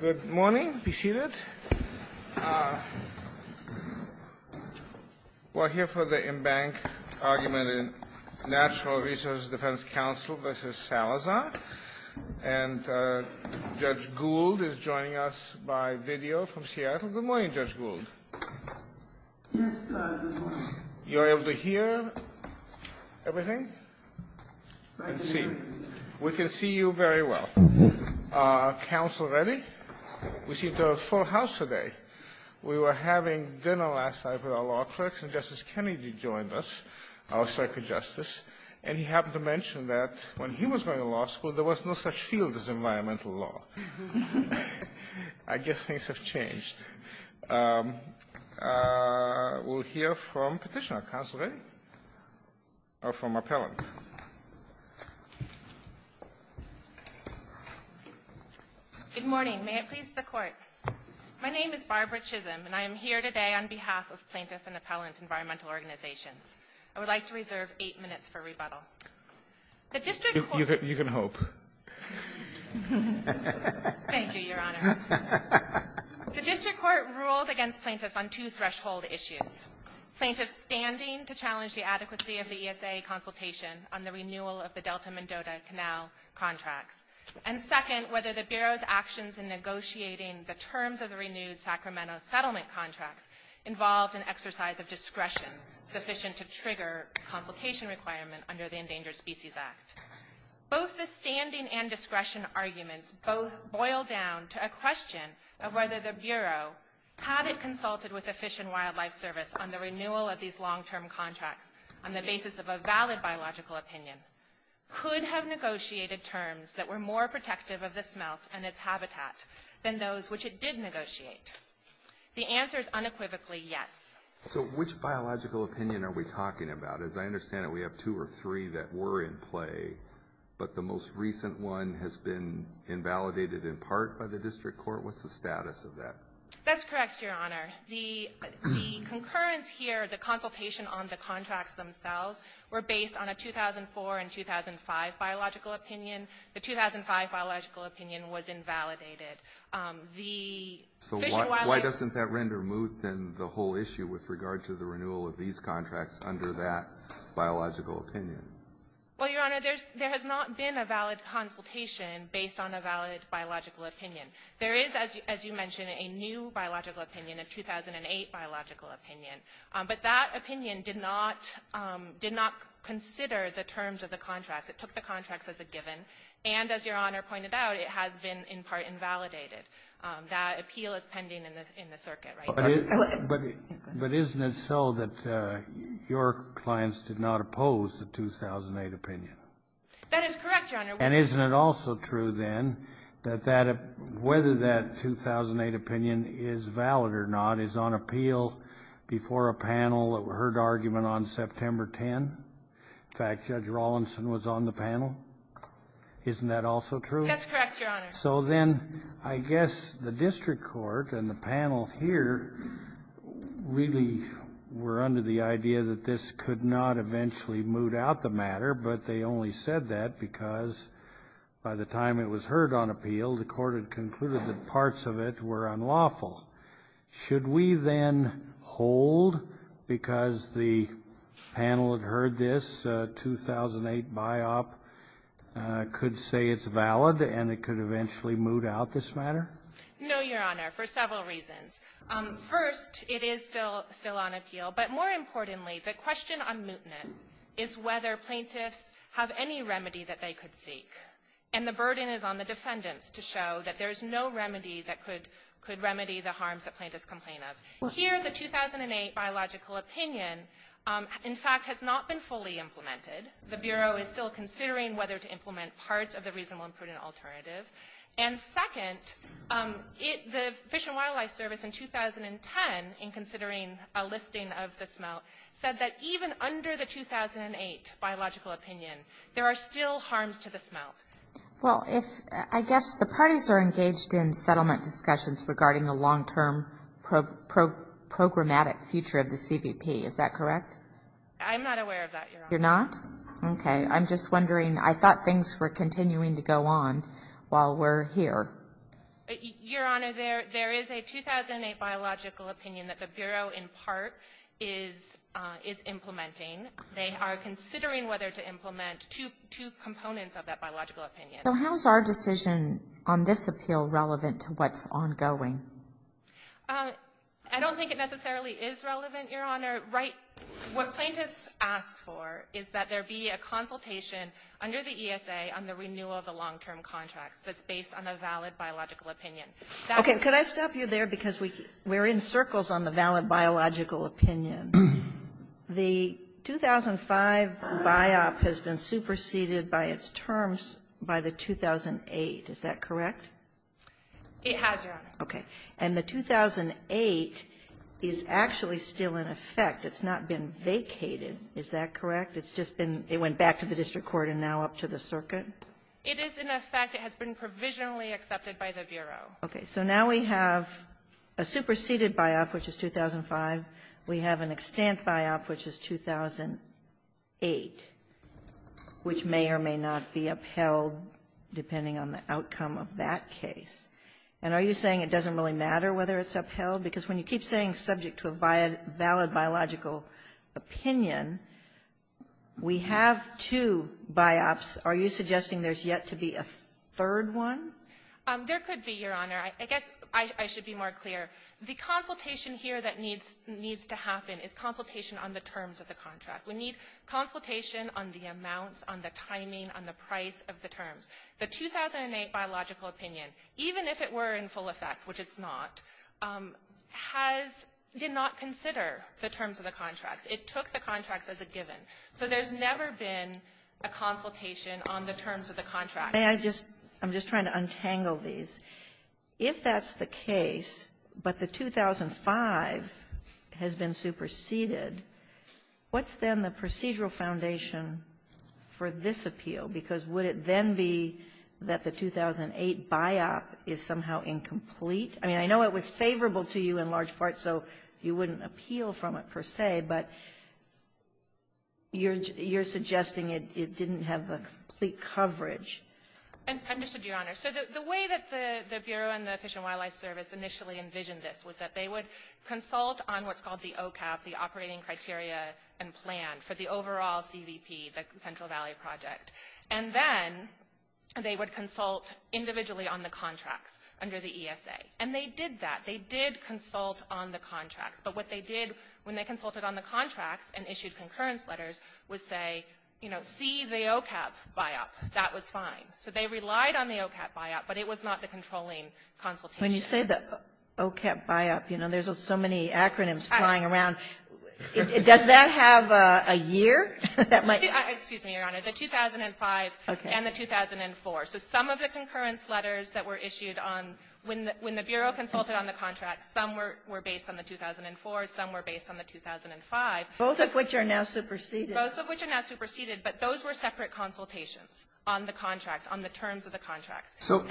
Good morning. Be seated. We're here for the embanked argument in National Resource Defense Council v. Salazar. And Judge Gould is joining us by video from Seattle. Good morning, Judge Gould. You're able to hear everything? Good evening. We can see you very well. Council ready? We see the full house today. We were having dinner last night with our law clerks, and Justice Kennedy joined us, our circuit justice, and he happened to mention that when he was going to law school, there was no such field as environmental law. I guess things have changed. We'll hear from petitioner. Council ready? Or from appellant. Good morning. May it please the Court. My name is Barbara Chisholm, and I am here today on behalf of Plaintiffs and Appellants Environmental Organization. I would like to reserve eight minutes for rebuttal. You can hope. Thank you, Your Honor. The district court ruled against plaintiffs on two threshold issues, plaintiffs standing to challenge the adequacy of the ESA consultation on the renewal of the Delta-Mendota Canal contract, and second, whether the Bureau's actions in negotiating the terms of the renewed Sacramento settlement contract involved an exercise of discretion sufficient to trigger a complication requirement under the Endangered Species Act. Both the standing and discretion arguments boil down to a question of whether the Bureau, had it consulted with the Fish and Wildlife Service on the renewal of these long-term contracts on the basis of a valid biological opinion, could have negotiated terms that were more protective of the smelt and its habitat than those which it did negotiate. The answer is unequivocally yes. So which biological opinion are we talking about? As I understand it, we have two or three that were in play, but the most recent one has been invalidated in part by the district court. What's the status of that? That's correct, Your Honor. The concurrence here, the consultation on the contracts themselves, were based on a 2004 and 2005 biological opinion. The 2005 biological opinion was invalidated. So why doesn't that render moot, then, the whole issue with regard to the renewal of these contracts under that biological opinion? Well, Your Honor, there has not been a valid consultation based on a valid biological opinion. There is, as you mentioned, a new biological opinion, a 2008 biological opinion. But that opinion did not consider the terms of the contract. It took the contracts as a given. And, as Your Honor pointed out, it has been in part invalidated. That appeal is pending in the circuit right now. But isn't it so that your clients did not oppose the 2008 opinion? That is correct, Your Honor. And isn't it also true, then, that whether that 2008 opinion is valid or not is on appeal before a panel that heard argument on September 10? In fact, Judge Rawlinson was on the panel. Isn't that also true? That's correct, Your Honor. So, then, I guess the district court and the panel here really were under the idea that this could not eventually moot out the matter. But they only said that because by the time it was heard on appeal, the court had concluded that parts of it were unlawful. Should we, then, hold because the panel had heard this 2008 biop, could say it's valid and it could eventually moot out this matter? No, Your Honor, for several reasons. First, it is still on appeal. But, more importantly, the question on mootness is whether plaintiffs have any remedy that they could seek. And the burden is on the defendant to show that there's no remedy that could remedy the harms that plaintiffs complain of. Here, the 2008 biological opinion, in fact, has not been fully implemented. The Bureau is still considering whether to implement parts of the reasonable and prudent alternative. And, second, the Fish and Wildlife Service, in 2010, in considering a listing of the smelt, said that even under the 2008 biological opinion, there are still harms to the smelt. Well, I guess the parties are engaged in settlement discussions regarding the long-term programmatic future of the CBP. Is that correct? I'm not aware of that, Your Honor. You're not? Okay. I'm just wondering, I thought things were continuing to go on while we're here. Your Honor, there is a 2008 biological opinion that the Bureau, in part, is implementing. They are considering whether to implement two components of that biological opinion. So, how is our decision on this appeal relevant to what's ongoing? I don't think it necessarily is relevant, Your Honor. What plaintiffs ask for is that there be a consultation under the ESA on the renewal of the long-term contract that's based on a valid biological opinion. Okay. Could I stop you there? Because we're in circles on the valid biological opinion. The 2005 biop has been superseded by its terms by the 2008. Is that correct? It has, Your Honor. Okay. And the 2008 is actually still in effect. It's not been vacated. Is that correct? It's just been – it went back to the district court and now up to the circuit? It is in effect. It has been provisionally accepted by the Bureau. Okay. So, now we have a superseded biop, which is 2005. We have an extant biop, which is 2008, which may or may not be upheld depending on the outcome of that case. And are you saying it doesn't really matter whether it's upheld? Because when you keep saying subject to a valid biological opinion, we have two biops. Are you suggesting there's yet to be a third one? There could be, Your Honor. I guess I should be more clear. The consultation here that needs to happen is consultation on the terms of the contract. We need consultation on the amounts, on the timing, on the price of the terms. The 2008 biological opinion, even if it were in full effect, which it's not, did not consider the terms of the contract. It took the contract as a given. So there's never been a consultation on the terms of the contract. May I just – I'm just trying to untangle these. If that's the case, but the 2005 has been superseded, what's then the procedural foundation for this appeal? Because would it then be that the 2008 biop is somehow incomplete? I mean, I know it was favorable to you in large part, so you wouldn't appeal from it per se. But you're suggesting it didn't have the complete coverage. And just to be honest, the way that the Bureau and the Fish and Wildlife Service initially envisioned this was that they would consult on what's called the OCAP, the Operating Criteria and Plan for the overall CDP, the Central Valley Project. And then they would consult individually on the contract under the ESA. And they did that. They did consult on the contract. But what they did when they consulted on the contract and issued concurrence letters was say, you know, see the OCAP biop. That was fine. So they relied on the OCAP biop, but it was not the controlling consultation. When you say the OCAP biop, you know, there's so many acronyms flying around. Does that have a year? Excuse me, Your Honor. The 2005 and the 2004. So some of the concurrence letters that were issued when the Bureau consulted on the contract, some were based on the 2004, some were based on the 2005. Both of which are now superseded. Both of which are now superseded, but those were separate consultations on the contract, on the terms of the contract. So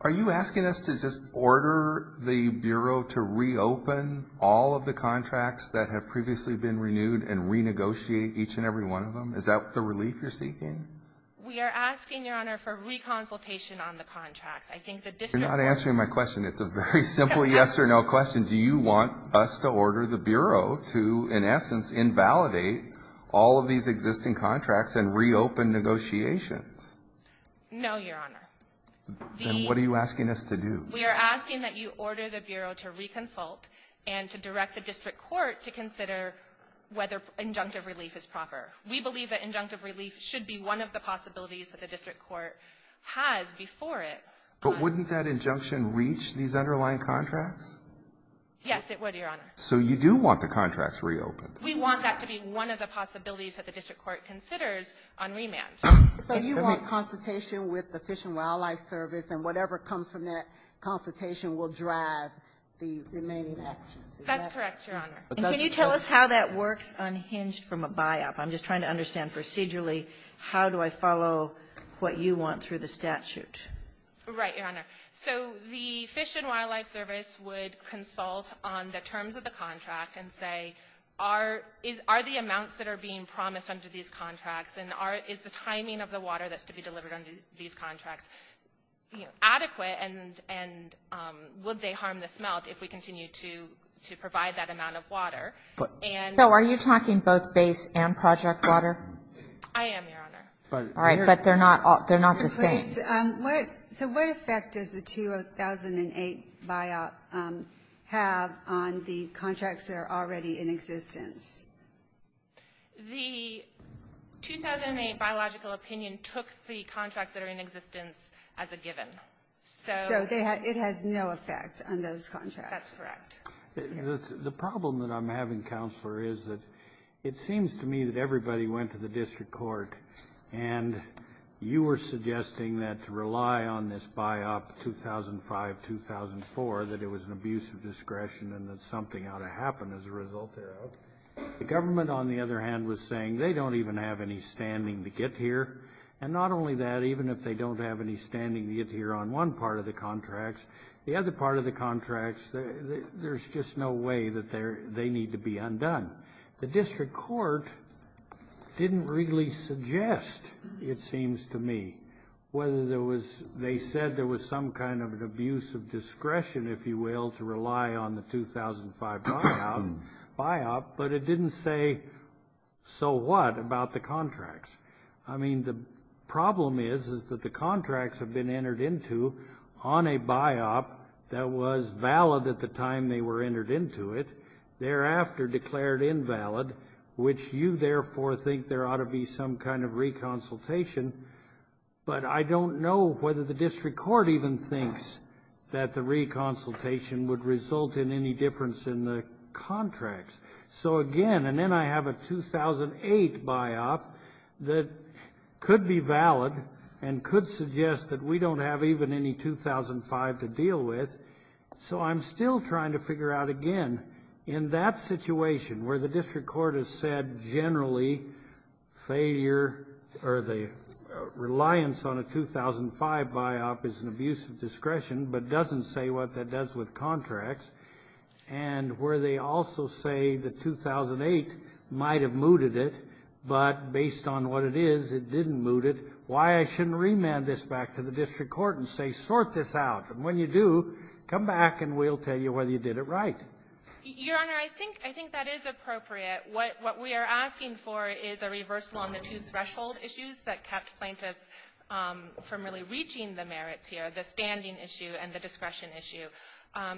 are you asking us to just order the Bureau to reopen all of the contracts that have previously been renewed and renegotiate each and every one of them? Is that the relief you're seeking? We are asking, Your Honor, for reconsultation on the contract. You're not answering my question. It's a very simple yes or no question. Do you want us to order the Bureau to, in essence, invalidate all of these existing contracts and reopen negotiations? No, Your Honor. Then what are you asking us to do? We are asking that you order the Bureau to reconsult and to direct the District Court to consider whether injunctive relief is proper. We believe that injunctive relief should be one of the possibilities that the District Court had before it. But wouldn't that injunction reach these underlying contracts? Yes, it would, Your Honor. So you do want the contracts reopened. We want that to be one of the possibilities that the District Court considers on rematch. So you want consultation with the Fish and Wildlife Service, and whatever comes from that consultation will drive the remaining action. That's correct, Your Honor. Can you tell us how that works unhinged from a buyout? I'm just trying to understand procedurally. How do I follow what you want through the statute? Right, Your Honor. So the Fish and Wildlife Service would consult on the terms of the contract and say, are the amounts that are being promised under these contracts, and is the timing of the water that's to be delivered under these contracts adequate, and would they harm the smelt if we continue to provide that amount of water? So are you talking both base and project water? I am, Your Honor. All right, but they're not the same. So what effect does the 2008 buyout have on the contracts that are already in existence? The 2008 biological opinion took the contracts that are in existence as a given. So it has no effect on those contracts. That's correct. The problem that I'm having, Counselor, is that it seems to me that everybody went to the District Court, and you were suggesting that to rely on this buyout 2005-2004, that it was an abuse of discretion and that something ought to happen as a result thereof. The government, on the other hand, was saying they don't even have any standing to get here. And not only that, even if they don't have any standing to get here on one part of the contracts, the other part of the contracts, there's just no way that they need to be undone. The District Court didn't really suggest, it seems to me, whether there was they said there was some kind of an abuse of discretion, if you will, to rely on the 2005 buyout, but it didn't say so what about the contracts. I mean, the problem is is that the contracts have been entered into on a buyout that was valid at the time they were entered into it, thereafter declared invalid, which you therefore think there ought to be some kind of reconsultation. But I don't know whether the District Court even thinks that the reconsultation would result in any difference in the contracts. So again, and then I have a 2008 buyout that could be valid and could suggest that we don't have even any 2005 to deal with. So I'm still trying to figure out, again, in that situation where the District Court has said generally failure or the reliance on a 2005 buyout is an abuse of discretion but doesn't say what that does with contracts, and where they also say the 2008 might have mooted it, but based on what it is, it didn't moot it, why I shouldn't remand this back to the District Court and say sort this out. And when you do, come back and we'll tell you whether you did it right. Your Honor, I think that is appropriate. What we are asking for is a reversal on the two threshold issues that kept plaintiffs from really reaching the merits here, the standing issue and the discretion issue.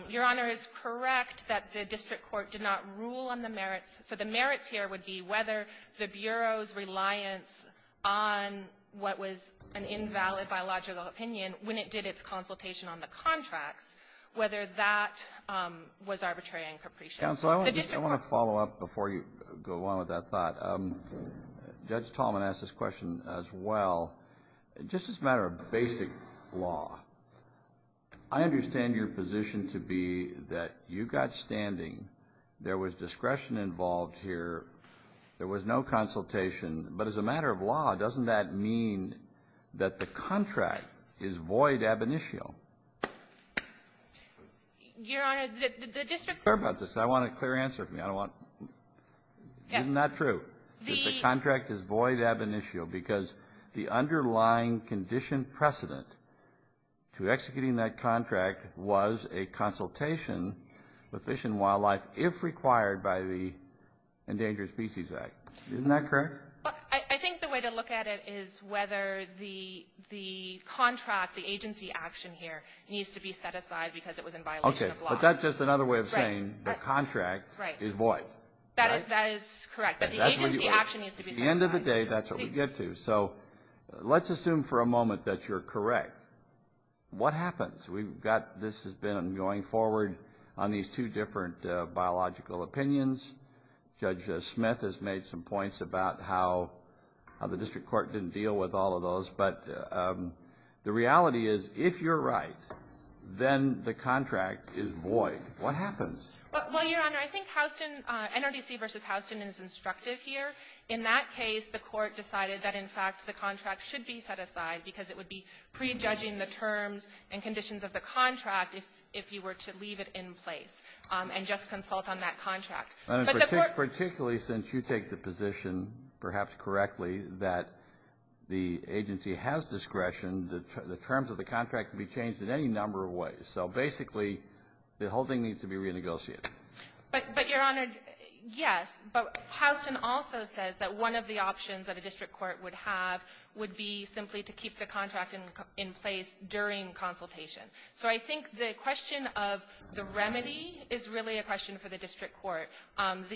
Your Honor, it's correct that the District Court did not rule on the merits, but the merits here would be whether the Bureau's reliance on what was an invalid biological opinion when it did its consultation on the contract, whether that was arbitrary and capricious. Counsel, I want to follow up before you go along with that thought. Judge Tallman asked this question as well. Just as a matter of basic law, I understand your position to be that you got standing, there was discretion involved here, there was no consultation, but as a matter of law, doesn't that mean that the contract is void ab initio? Your Honor, the District Court... I want a clear answer from you. Isn't that true, that the contract is void ab initio because the underlying condition precedent to executing that contract was a consultation with Fish and Wildlife if required by the Endangered Species Act. Isn't that correct? I think the way to look at it is whether the contract, the agency action here, needs to be set aside because it was in violation of law. Okay, but that's just another way of saying the contract is void. That is correct, but the agency action needs to be set aside. At the end of the day, that's what we get to. So let's assume for a moment that you're correct. What happens? This has been going forward on these two different biological opinions. Judge Smith has made some points about how the District Court didn't deal with all of those, but the reality is if you're right, then the contract is void. What happens? Well, Your Honor, I think NRDC v. Houston is instructive here. In that case, the court decided that, in fact, the contract should be set aside because it would be prejudging the terms and conditions of the contract if you were to leave it in place and just consult on that contract. Particularly since you take the position, perhaps correctly, that the agency has discretion, the terms of the contract can be changed in any number of ways. So basically the whole thing needs to be renegotiated. But, Your Honor, yes, but Houston also says that one of the options that a District Court would have would be simply to keep the contract in place during consultation. So I think the question of the remedy is really a question for the District Court. In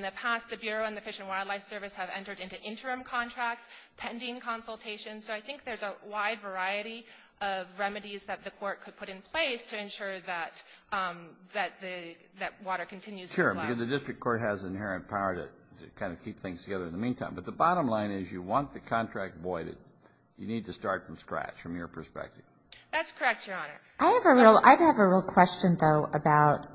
the past, the Bureau and the Fish and Wildlife Service have entered into interim contracts pending consultation, so I think there's a wide variety of remedies that the court could put in place to ensure that water continues to flow. Sure, but the District Court has inherent power to kind of keep things together in the meantime. But the bottom line is you want the contract voided. You need to start from scratch from your perspective. That's correct, Your Honor. I have a real question, though, about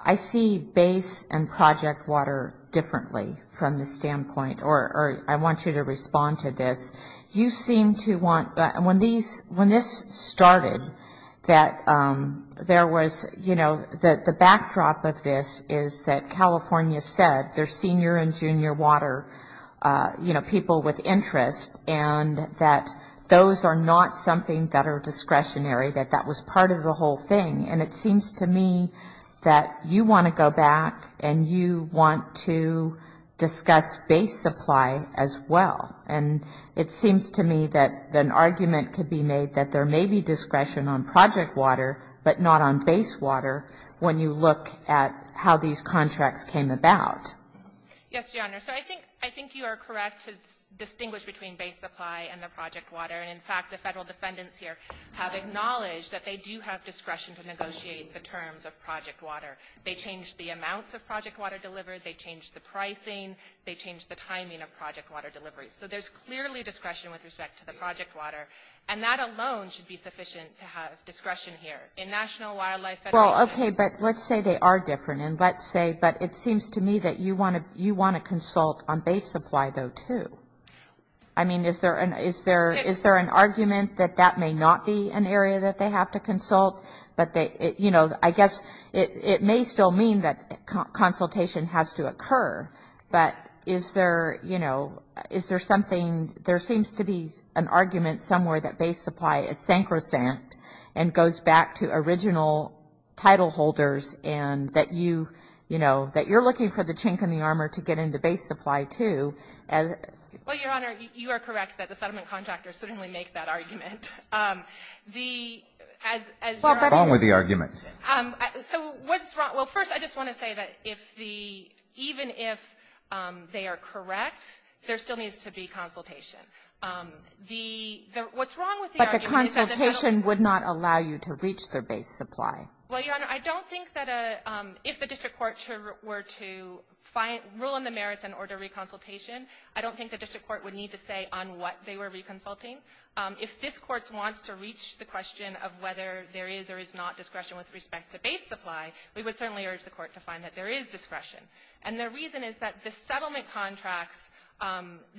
I see base and project water differently from this standpoint, or I want you to respond to this. You seem to want that. When this started, that there was, you know, the backdrop of this is that California said there's senior and junior water, you know, people with interest, and that those are not something that are discretionary, that that was part of the whole thing. And it seems to me that you want to go back and you want to discuss base supply as well. And it seems to me that an argument could be made that there may be discretion on project water, but not on base water when you look at how these contracts came about. Yes, Your Honor. So I think you are correct to distinguish between base supply and the project water. In fact, the federal defendants here have acknowledged that they do have discretion to negotiate the terms of project water. They change the amounts of project water delivered. They change the pricing. They change the timing of project water delivery. So there's clearly discretion with respect to the project water, and that alone should be sufficient to have discretion here. In National Wildlife Federation. Well, okay, but let's say they are different, and let's say, but it seems to me that you want to consult on base supply, though, too. I mean, is there an argument that that may not be an area that they have to consult? You know, I guess it may still mean that consultation has to occur, but is there, you know, is there something, there seems to be an argument somewhere that base supply is sacrosanct and goes back to original title holders and that you, you know, that you're looking for the chink in the armor to get into base supply, too. Well, Your Honor, you are correct that the settlement contractors certainly make that argument. The, as you're asking. Well, what's wrong with the argument? So what's wrong, well, first I just want to say that if the, even if they are correct, there still needs to be consultation. The, what's wrong with the argument is that the title. But the consultation would not allow you to reach their base supply. Well, Your Honor, I don't think that a, if the district court were to find, rule in the merits and order reconsultation, I don't think the district court would need to say on what they were reconsulting. If this court wants to reach the question of whether there is or is not discretion with respect to base supply, we would certainly urge the court to find that there is discretion. And the reason is that the settlement contracts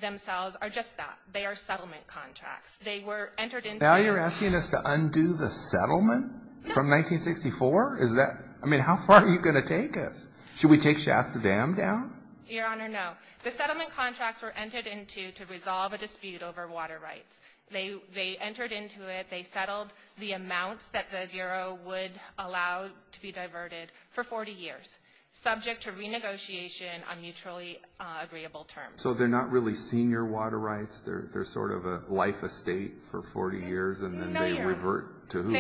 themselves are just that. They are settlement contracts. They were entered into. Now you're asking us to undo the settlement from 1964? Is that, I mean, how far are you going to take us? Should we take Shasta Dam down? Your Honor, no. The settlement contracts were entered into to resolve a dispute over water rights. They entered into it. They settled the amounts that the Bureau would allow to be diverted for 40 years, subject to renegotiation on neutrally agreeable terms. So they're not really senior water rights? They're sort of a life estate for 40 years and then they revert to who?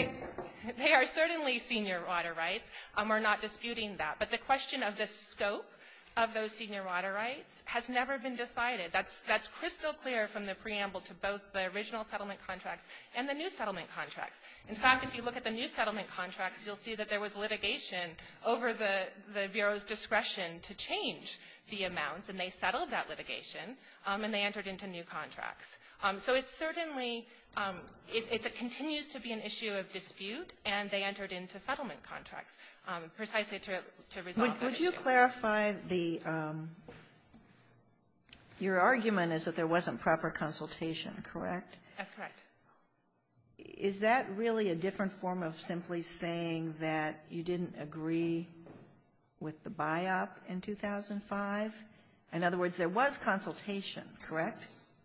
They are certainly senior water rights. We're not disputing that. But the question of the scope of those senior water rights has never been decided. That's crystal clear from the preamble to both the original settlement contracts and the new settlement contracts. In fact, if you look at the new settlement contracts, you'll see that there was litigation over the Bureau's discretion to change the amounts, and they settled that litigation and they entered into new contracts. So it's certainly, it continues to be an issue of dispute, and they entered into settlement contracts precisely to resolve the dispute. Would you clarify the, your argument is that there wasn't proper consultation, correct? That's correct. Is that really a different form of simply saying that you didn't agree with the buy-up in 2005? In other words, there was consultation, correct?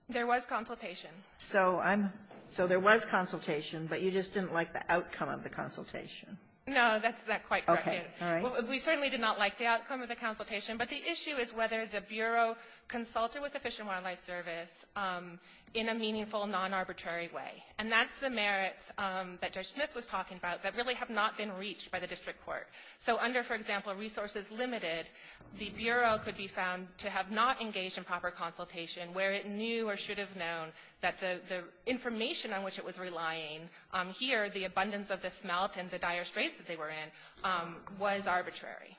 There was consultation. So there was consultation, but you just didn't like the outcome of the consultation. No, that's not quite correct. We certainly did not like the outcome of the consultation, but the issue is whether the Bureau consulted with the Fish and Wildlife Service in a meaningful, non-arbitrary way. And that's the merits that Judge Smith was talking about that really have not been reached by the district court. So under, for example, resources limited, the Bureau could be found to have not engaged in proper consultation where it knew or should have known that the information on which it was relying here, the abundance of the smelt and the dire straits that they were in, was arbitrary.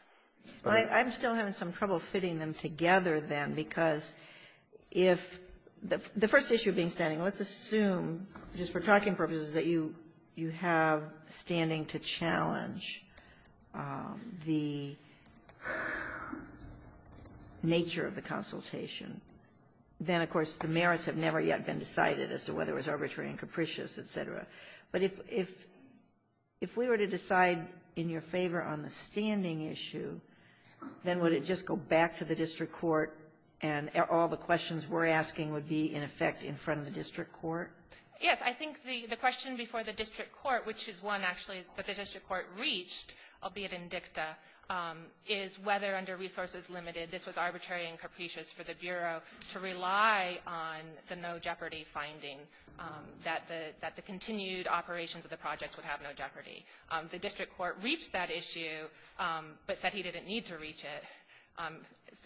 I'm still having some trouble fitting them together then, because if the first issue being standing, let's assume, just for talking purposes, that you have standing to challenge the nature of the consultation. Then, of course, the merits have never yet been decided as to whether it was arbitrary and capricious, et cetera. But if we were to decide in your favor on the standing issue, then would it just go back to the district court and all the questions we're asking would be, in effect, in front of the district court? Yes, I think the question before the district court, which is one actually that the district court reached, albeit in dicta, is whether under resources limited this was arbitrary and capricious for the Bureau to rely on the no jeopardy finding, that the continued operations of the project would have no jeopardy. The district court reached that issue, but said he didn't need to reach it,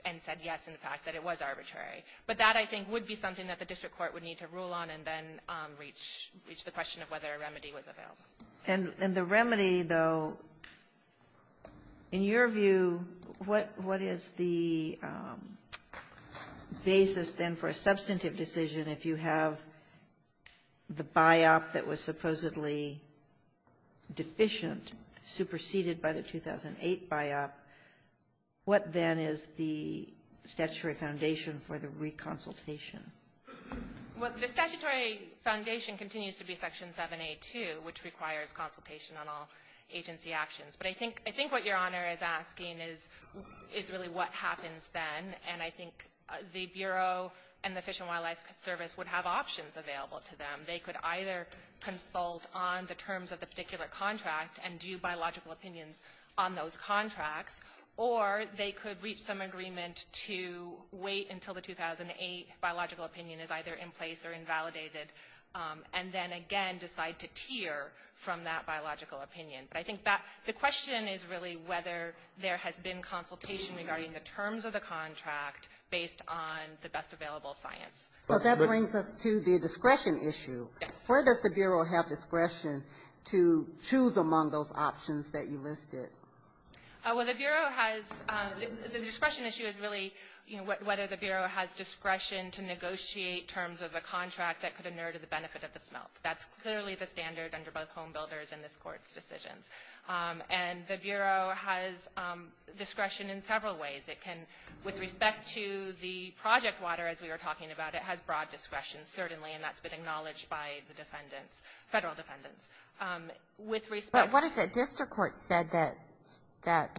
and said yes, in fact, that it was arbitrary. But that, I think, would be something that the district court would need to rule on and then reach the question of whether a remedy was available. And the remedy, though, in your view, what is the basis then for a substantive decision if you have the buy-off that was supposedly deficient, superseded by the 2008 buy-off? What then is the statutory foundation for the reconsultation? Well, the statutory foundation continues to be Section 7A2, which requires consultation on all agency actions. But I think what Your Honor is asking is really what happens then, and I think the Bureau and the Fish and Wildlife Service would have options available to them. They could either consult on the terms of the particular contract and view biological opinions on those contracts, or they could reach some agreement to wait until the 2008 biological opinion is either in place or invalidated, and then again decide to tier from that biological opinion. But I think the question is really whether there has been consultation regarding the terms of the contract based on the best available science. Well, that brings us to the discretion issue. Yes. Where does the Bureau have discretion to choose among those options that you listed? Well, the Bureau has – the discretion issue is really whether the Bureau has discretion to negotiate terms of a contract that could inurt the benefit of the smelt. That's clearly the standard under both homebuilders and this Court's decision. And the Bureau has discretion in several ways. With respect to the project water, as we were talking about, it has broad discretion, certainly, and that's been acknowledged by the defendants, federal defendants. But what if the district court said that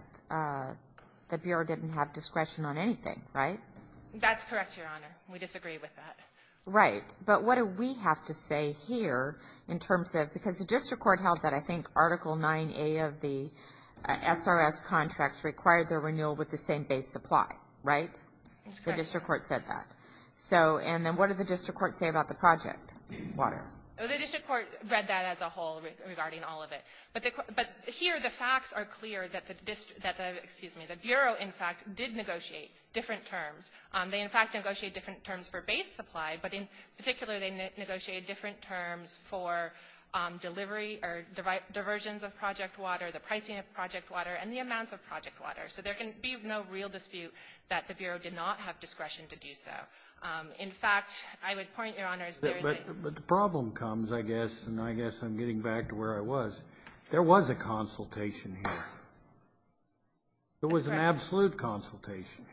the Bureau didn't have discretion on anything, right? That's correct, Your Honor. We disagree with that. Right. But what do we have to say here in terms of – because the district court held that, I think, Article 9A of the SRS contracts required the renewal with the same base supply, right? The district court said that. And then what did the district court say about the project water? The district court read that as a whole regarding all of it. But here the facts are clear that the – excuse me – the Bureau, in fact, did negotiate different terms. They, in fact, negotiated different terms for base supply, but in particular they negotiated different terms for delivery or diversions of project water, the pricing of project water, and the amounts of project water. So there can be no real dispute that the Bureau did not have discretion to do so. In fact, I would point, Your Honor, but the problem comes, I guess, and I guess I'm getting back to where I was. There was a consultation here. There was an absolute consultation.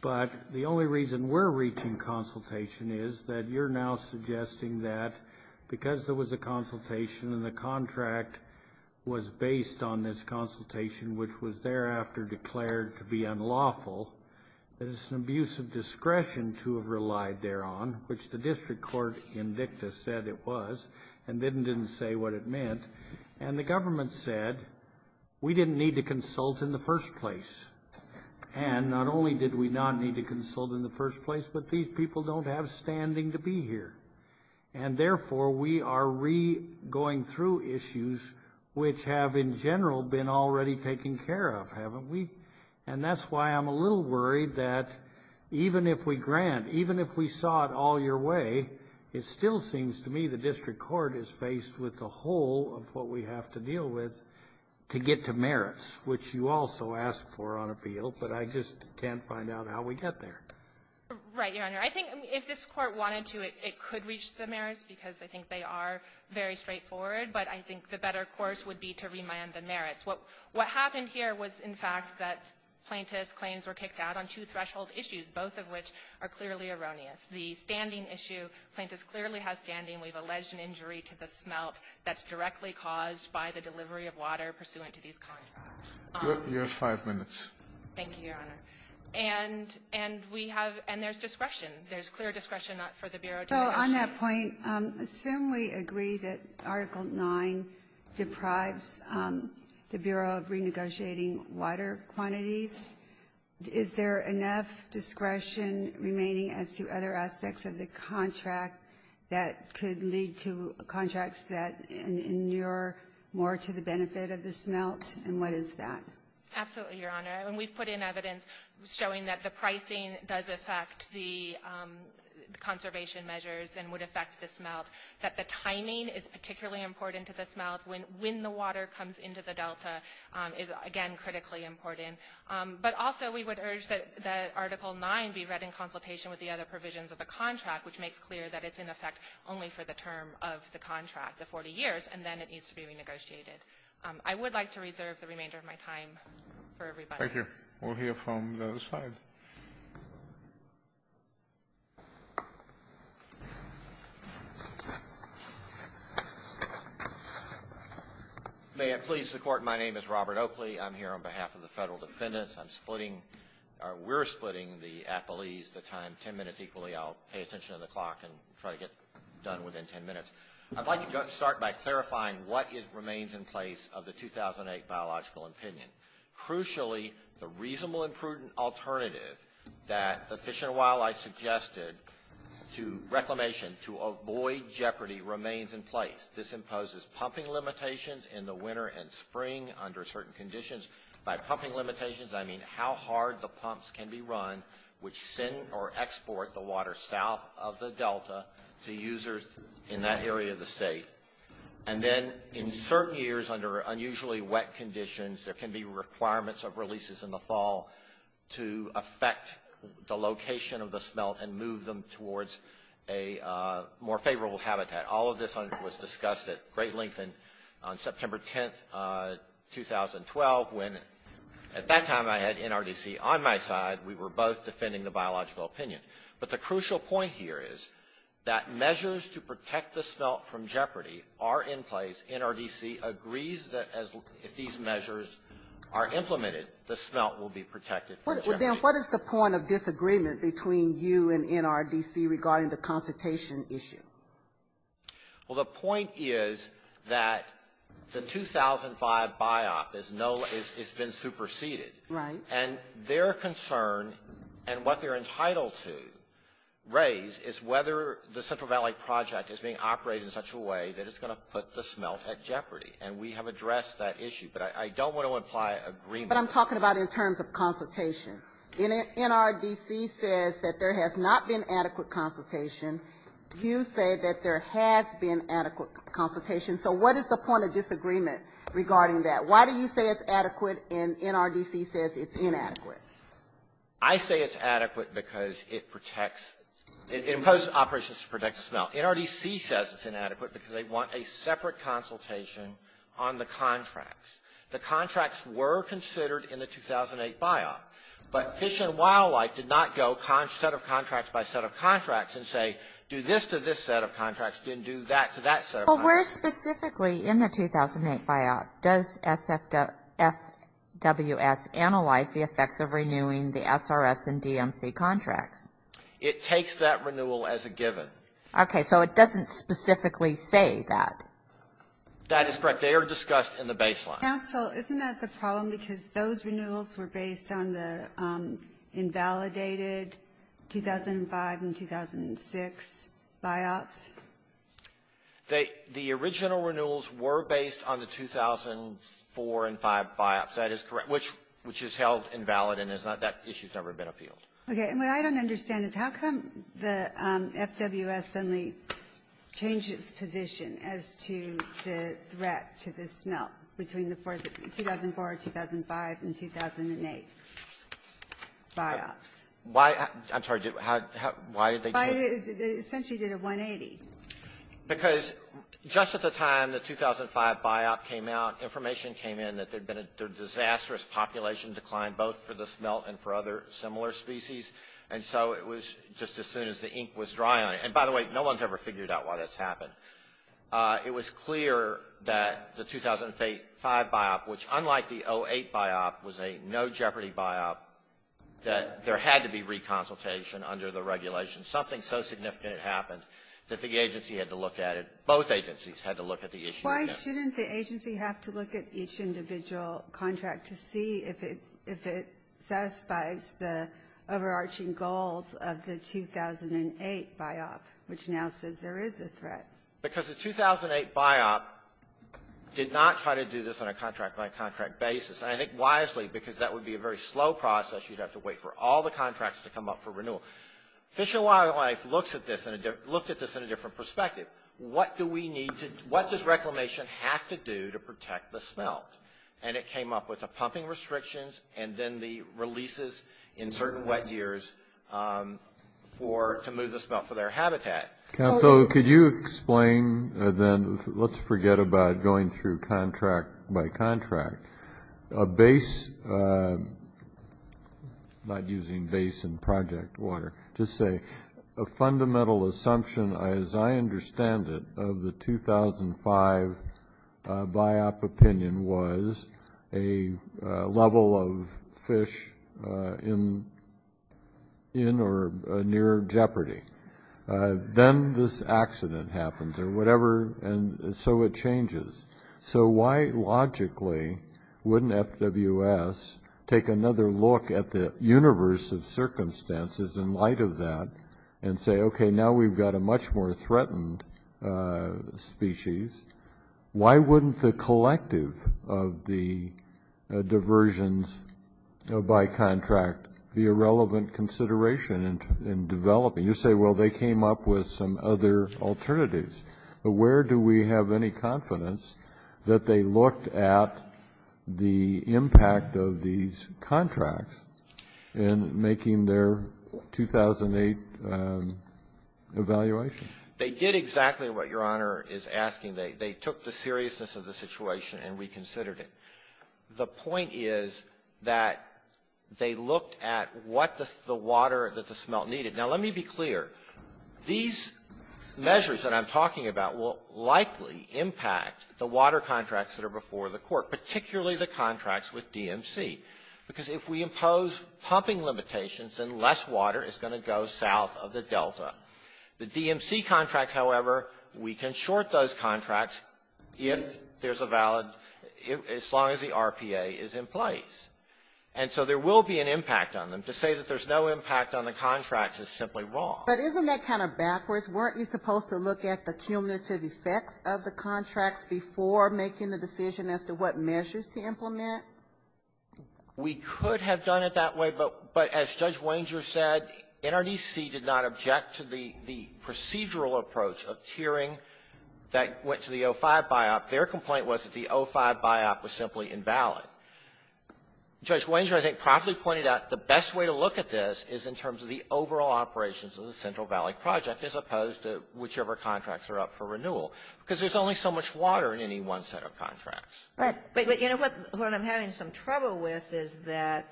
But the only reason we're reaching consultation is that you're now suggesting that because there was a consultation and the contract was based on this consultation, which was thereafter declared to be unlawful, that it's an abuse of discretion to have relied thereon, which the district court in dicta said it was, and then didn't say what it meant. And the government said we didn't need to consult in the first place. And not only did we not need to consult in the first place, but these people don't have standing to be here. And therefore we are re-going through issues which have in general been already taken care of, haven't we? And that's why I'm a little worried that even if we grant, even if we saw it all your way, it still seems to me the district court is faced with the whole of what we have to deal with to get to merits, which you also asked for on appeal, but I just can't find out how we get there. Right, Your Honor. I think if this court wanted to, it could reach the merits because I think they are very straightforward, but I think the better course would be to remind the merits. What happened here was, in fact, that Plaintiff's claims were kicked out on two threshold issues, both of which are clearly erroneous. The standing issue, Plaintiff's clearly has standing. We've alleged an injury to the smelt that's directly caused by the delivery of water pursuant to these claims. You have five minutes. Thank you, Your Honor. And we have, and there's discretion. There's clear discretion for the Bureau to act. So on that point, assume we agree that Article 9 deprives the Bureau of renegotiating water quantities. Is there enough discretion remaining as to other aspects of the contract that could lead to contracts that inure more to the benefit of the smelt, and what is that? Absolutely, Your Honor. And we've put in evidence showing that the pricing does affect the conservation measures and would affect the smelt, that the timing is particularly important to the smelt when the water comes into the delta is, again, critically important. But also we would urge that Article 9 be read in consultation with the other provisions of the contract, which makes clear that it's, in effect, only for the term of the contract, the 40 years, and then it needs to be renegotiated. I would like to reserve the remainder of my time for everybody. Thank you. We'll hear from the other side. May I please support? My name is Robert Oakley. I'm here on behalf of the federal defendants. I'm splitting, or we're splitting the appellees, the time, 10 minutes equally. I'll pay attention to the clock and try to get done within 10 minutes. I'd like to start by clarifying what remains in place of the 2008 biological opinion. Crucially, the reasonable and prudent alternative that the Fish and Wildlife suggested to reclamation, to avoid jeopardy, remains in place. This imposes pumping limitations in the winter and spring under certain conditions. By pumping limitations, I mean how hard the pumps can be run, which send or export the water south of the delta to users in that area of the state. And then, in certain years, under unusually wet conditions, there can be requirements of releases in the fall to affect the location of the smelt and move them towards a more favorable habitat. All of this was discussed at great length on September 10, 2012, when, at that time, I had NRDC on my side. We were both defending the biological opinion. But the crucial point here is that measures to protect the smelt from jeopardy are in place. NRDC agrees that if these measures are implemented, the smelt will be protected from jeopardy. What is the point of disagreement between you and NRDC regarding the consultation issue? Well, the point is that the 2005 BIOP has been superseded. And their concern and what they're entitled to raise is whether the Central Valley Project is being operated in such a way that it's going to put the smelt at jeopardy. And we have addressed that issue. But I don't want to imply agreement. But I'm talking about in terms of consultation. NRDC says that there has not been adequate consultation. You say that there has been adequate consultation. So what is the point of disagreement regarding that? Why do you say it's adequate and NRDC says it's inadequate? I say it's adequate because it protects the smelt. NRDC says it's inadequate because they want a separate consultation on the contracts. The contracts were considered in the 2008 BIOP. But Fish and Wildlife did not go set of contracts by set of contracts and say, do this to this set of contracts, then do that to that set of contracts. Well, where specifically in the 2008 BIOP, does FWS analyze the effects of renewing the SRS and DMC contracts? It takes that renewal as a given. Okay. So it doesn't specifically say that. That is correct. They are discussed in the baseline. Counsel, isn't that the problem because those renewals were based on the invalidated 2005 and 2006 BIOPs? The original renewals were based on the 2004 and 2005 BIOPs. That is correct, which is held invalid and that issue has never been appealed. Okay. What I don't understand is how come the FWS only changed its position as to the threat to the smelt between the 2004, 2005, and 2008 BIOPs? I'm sorry. Why did they change it? They essentially did a 180. Because just at the time the 2005 BIOP came out, information came in that there had been a disastrous population decline, both for the smelt and for other similar species. And so it was just as soon as the ink was dry on it. And by the way, no one's ever figured out why this happened. It was clear that the 2005 BIOP, which unlike the 2008 BIOP, was a no jeopardy BIOP, that there had to be reconsultation under the regulations. Something so significant had happened that the agency had to look at it. Both agencies had to look at the issue. Why shouldn't the agency have to look at each individual contract to see if it satisfies the overarching goals of the 2008 BIOP, which now says there is a threat? Because the 2008 BIOP did not try to do this on a contract-by-contract basis. And I think wisely because that would be a very slow process. You'd have to wait for all the contracts to come up for renewal. Fish and Wildlife looked at this in a different perspective. What does Reclamation have to do to protect the smelt? And it came up with the pumping restrictions and then the releases in certain wet years to move the smelt for their habitat. So could you explain then, let's forget about going through contract-by-contract, a fundamental assumption, as I understand it, of the 2005 BIOP opinion, was a level of fish in or near jeopardy. Then this accident happens, and so it changes. So why logically wouldn't FWS take another look at the universe of circumstances in light of that and say, okay, now we've got a much more threatened species. Why wouldn't the collective of the diversions by contract be a relevant consideration in developing? You say, well, they came up with some other alternatives. Where do we have any confidence that they looked at the impact of these contracts in making their 2008 evaluation? They did exactly what Your Honor is asking. They took the seriousness of the situation and reconsidered it. The point is that they looked at what the water that the smelt needed. Now let me be clear. These measures that I'm talking about will likely impact the water contracts that are before the court, particularly the contracts with DMC, because if we impose pumping limitations, then less water is going to go south of the delta. The DMC contract, however, we can short those contracts if there's a valid, as long as the RPA is in place. And so there will be an impact on them. To say that there's no impact on the contracts is simply wrong. But isn't that kind of backwards? Weren't we supposed to look at the cumulative effects of the contracts before making the decision as to what measures to implement? We could have done it that way, but as Judge Wenger said, NRDC did not object to the procedural approach of tiering that went to the O5 Biop. The Biop was simply invalid. Judge Wenger, I think, promptly pointed out the best way to look at this is in terms of the overall operations of the Central Valley Project as opposed to whichever contracts are up for renewal, because there's only so much water in any one set of contracts. Right. But you know what I'm having some trouble with is that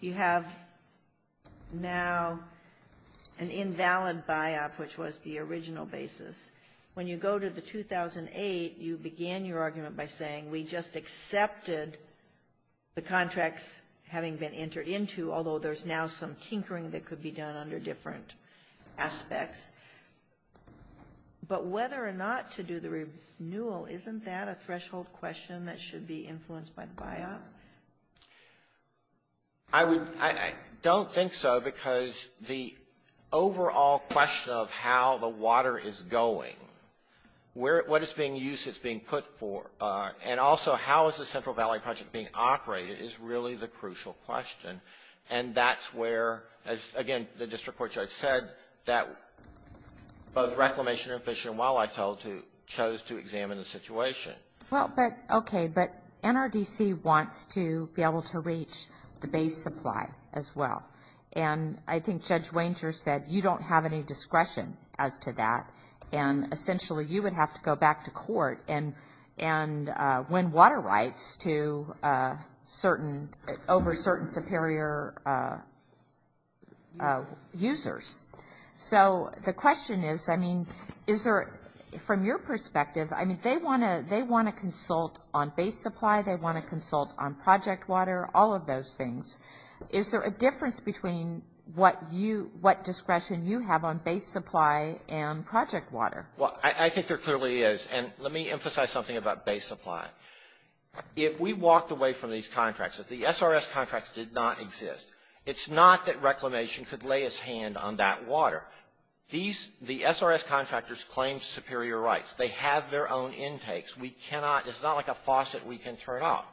you have now an invalid Biop, which was the original basis. When you go to the 2008, you begin your argument by saying, we just accepted the contracts having been entered into, although there's now some tinkering that could be done under different aspects. But whether or not to do the renewal, isn't that a threshold question that should be influenced by the Biop? I don't think so, because the overall question of how the water is going, what it's being used, it's being put for, and also how is the Central Valley Project being operated is really the crucial question. And that's where, again, the district court judge said that both Reclamation and Fish and Wildlife chose to examine the situation. Okay, but NRDC wants to be able to reach the base supply as well. And I think Judge Wenger said you don't have any discretion as to that, and essentially you would have to go back to court and win water rights over certain superior users. So the question is, I mean, is there, from your perspective, I mean, they want to consult on base supply, they want to consult on project water, all of those things. Is there a difference between what discretion you have on base supply and project water? Well, I think there clearly is. And let me emphasize something about base supply. If we walked away from these contracts, if the SRS contracts did not exist, it's not that Reclamation could lay its hand on that water. The SRS contractors claim superior rights. They have their own intakes. We cannot, it's not like a faucet we can turn off.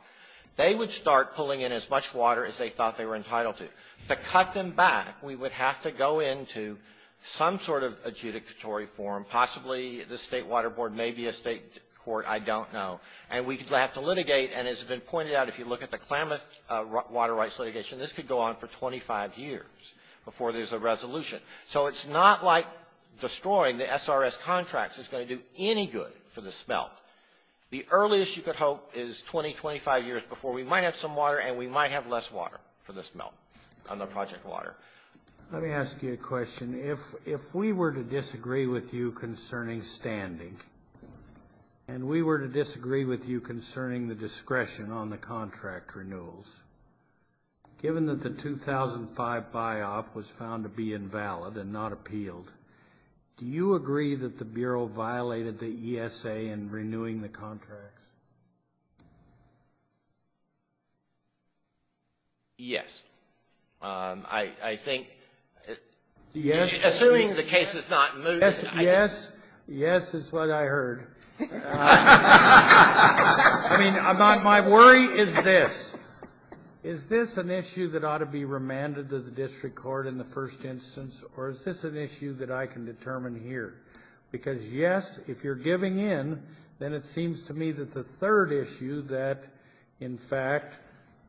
They would start pulling in as much water as they thought they were entitled to. To cut them back, we would have to go into some sort of adjudicatory form, possibly the state water board, maybe a state court, I don't know. And we would have to litigate, and as has been pointed out, if you look at the Klamath water rights litigation, this could go on for 25 years before there's a resolution. So it's not like destroying the SRS contracts is going to do any good for the smelt. The earliest you could hope is 20, 25 years before we might have some water and we might have less water for the project water. Let me ask you a question. If we were to disagree with you concerning standing, and we were to disagree with you concerning the discretion on the contract renewals, given that the 2005 buy-off was found to be invalid and not appealed, do you agree that the Bureau violated the ESA in renewing the contract? Yes. I think, assuming the case is not looted. Yes, yes, yes is what I heard. I mean, my worry is this. Is this an issue that ought to be remanded to the district court in the first instance, or is this an issue that I can determine here? Because, yes, if you're giving in, then it seems to me that the third issue that, in fact,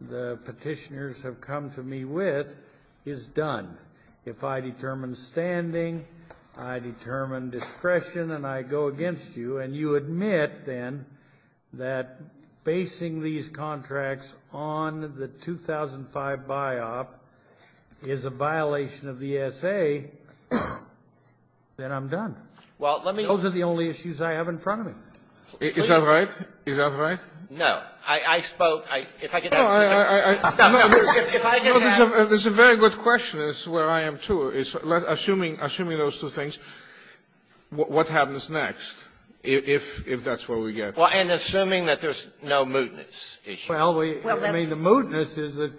the petitioners have come to me with is done. If I determine standing, I determine discretion, and I go against you, and you admit then that basing these contracts on the 2005 buy-off is a violation of the ESA, then I'm done. Those are the only issues I have in front of me. Is that right? Is that right? No. There's a very good question, and this is where I am, too. Assuming those two things, what happens next, if that's what we get? Well, and assuming that there's no mootness issue. Well, I mean, the mootness is that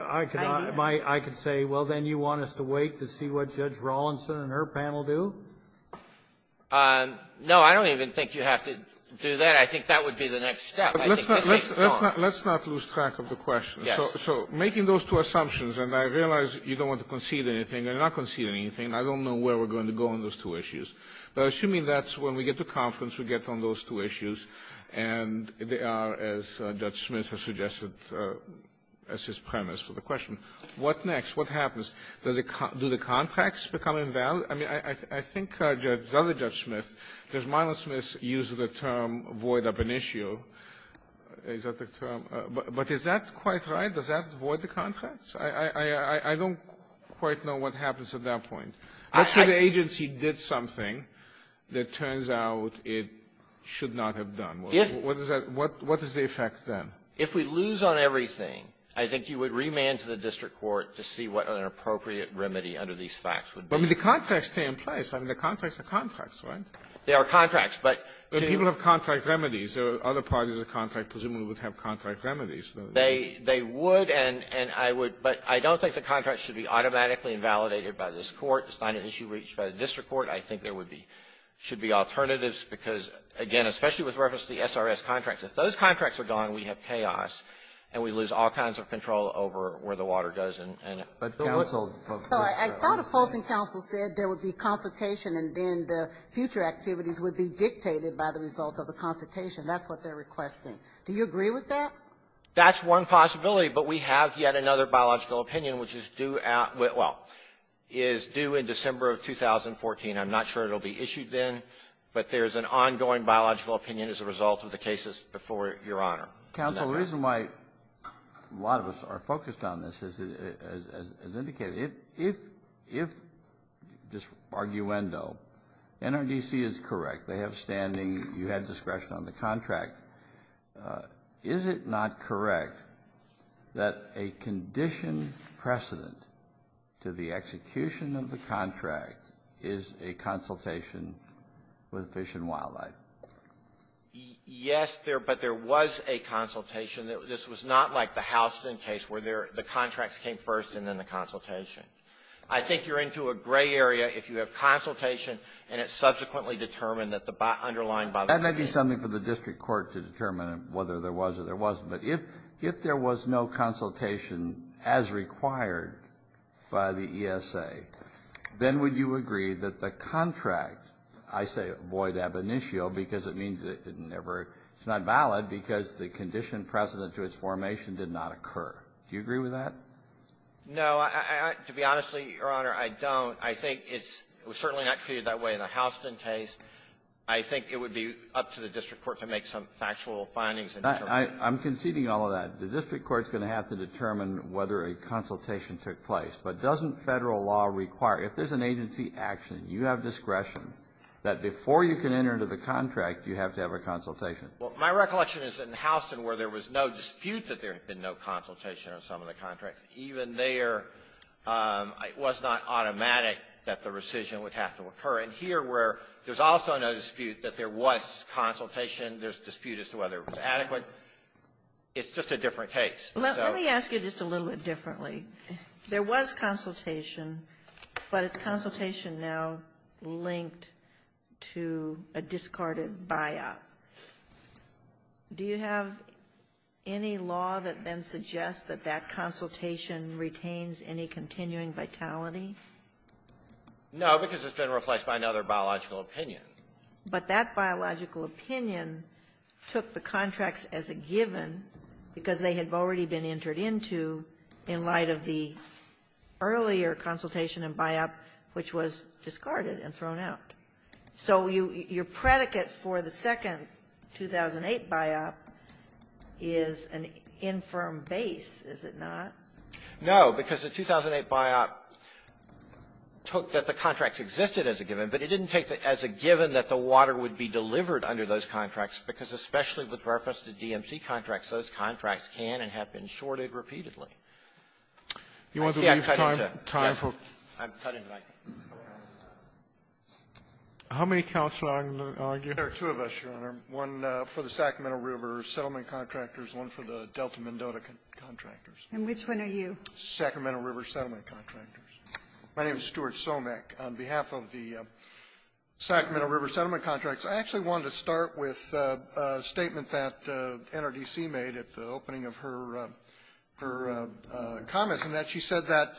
I could say, well, then you want us to wait to see what Judge Rawlinson and her panel do? No, I don't even think you have to do that. I think that would be the next step. Let's not lose track of the question. So making those two assumptions, and I realize you don't want to concede anything. You're not conceding anything. I don't know where we're going to go on those two issues. But assuming that's when we get to conference, we get on those two issues, and they are, as Judge Smith has suggested, as his premise for the question. What next? What happens? Do the contracts become invalid? I mean, I think, as other Judge Smith, does Milo Smith use the term void up an issue? Is that the term? But is that quite right? Does that void the contracts? I don't quite know what happens at that point. Let's say the agency did something that turns out it should not have done. What is the effect then? If we lose on everything, I think you would remand to the district court to see what an appropriate remedy under these facts would be. I mean, the contracts stay in place. I mean, the contracts are contracts, right? They are contracts. But people have contract remedies. Other parties of the contract presumably would have contract remedies. They would, but I don't think the contracts should be automatically invalidated by this court. It's not an issue reached by the district court. I think there should be alternatives because, again, especially with reference to the SRS contracts, if those contracts are gone, we have chaos, and we lose all kinds of control over where the water goes. I thought a closing counsel said there would be consultation and then the future activities would be dictated by the results of the consultation. That's what they're requesting. Do you agree with that? That's one possibility, but we have yet another biological opinion, which is due in December of 2014. I'm not sure it will be issued then, but there is an ongoing biological opinion as a result of the cases before Your Honor. Counsel, the reason why a lot of us are focused on this is as indicated, if this arguendo NRDC is correct, they have standing, you have discretion on the contract, is it not correct that a conditioned precedent to the execution of the contract Yes, but there was a consultation. This was not like the Houston case where the contract came first and then the consultation. I think you're into a gray area if you have consultation and it's subsequently determined that the underlying biological opinion That might be something for the district court to determine whether there was or there wasn't, but if there was no consultation as required by the ESA, then would you agree that the contract, I say void ab initio, because it means it's not valid because the conditioned precedent to its formation did not occur. Do you agree with that? To be honest with you, Your Honor, I don't. I think it was certainly not treated that way in the Houston case. I think it would be up to the district court to make some factual findings. I'm conceding all of that. The district court is going to have to determine whether a consultation took place, but doesn't federal law require, if there's an agency action, you have discretion that before you can enter into the contract, you have to have a consultation. Well, my recollection is that in Houston where there was no dispute that there had been no consultation on some of the contracts, even there it was not automatic that the rescission would have to occur. And here where there's also no dispute that there was consultation, there's dispute as to whether it was adequate, it's just a different case. Let me ask you just a little bit differently. There was consultation, but is consultation now linked to a discarded buyout? Do you have any law that then suggests that that consultation retains any continuing vitality? No, because it's been replaced by another biological opinion. But that biological opinion took the contracts as a given because they had already been entered into in light of the earlier consultation and buyout, which was discarded and thrown out. So your predicate for the second 2008 buyout is an infirm base, is it not? No, because the 2008 buyout took that the contract existed as a given, but it didn't take it as a given that the water would be delivered under those contracts because especially with reference to DMC contracts, those contracts can and have been shorted repeatedly. Do you want to leave time? Yes, I'm cutting back. How many counselors are on here? There are two of us, Your Honor. One for the Sacramento River Settlement Contractors, one for the Delta Mendota Contractors. And which one are you? Sacramento River Settlement Contractors. My name is Stuart Somek. On behalf of the Sacramento River Settlement Contracts, I actually wanted to start with a statement that NRDC made at the opening of her comments, in that she said that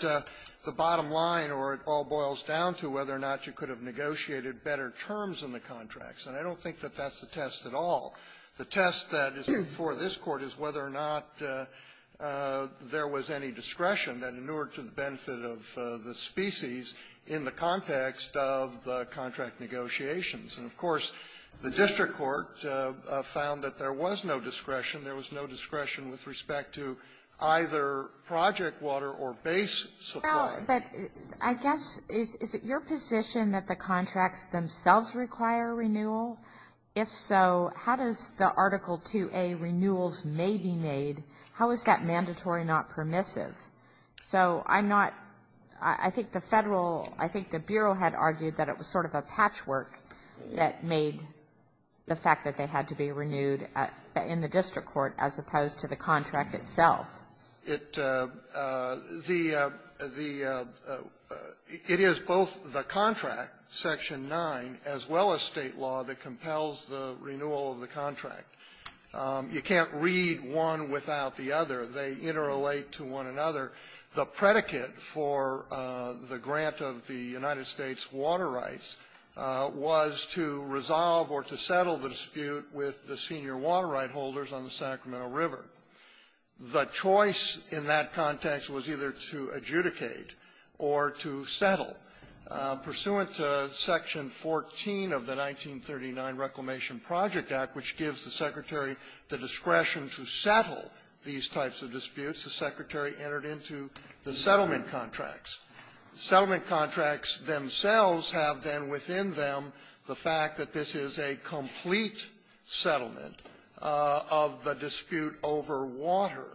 the bottom line, or it all boils down to, whether or not you could have negotiated better terms in the contracts. And I don't think that that's the test at all. The test that is before this Court is whether or not there was any discretion that inured to the benefit of the species in the context of the contract negotiations. And, of course, the District Court found that there was no discretion. There was no discretion with respect to either project water or base supply. But I guess, is it your position that the contracts themselves require renewal? If so, how does the Article 2A, renewals may be made, how is that mandatory, not permissive? So I'm not, I think the federal, I think the Bureau had argued that it was sort of a patchwork that made the fact that they had to be renewed in the District Court as opposed to the contract itself. It is both the contract, Section 9, as well as state law that compels the renewal of the contract. You can't read one without the other. They interrelate to one another. The predicate for the grant of the United States water rights was to resolve or to settle the dispute with the senior water right holders on the Sacramento River. The choice in that context was either to adjudicate or to settle. Pursuant to Section 14 of the 1939 Reclamation Project Act, which gives the Secretary the discretion to settle these types of disputes, the Secretary entered into the settlement contracts. Settlement contracts themselves have then within them the fact that this is a complete settlement of the dispute over water.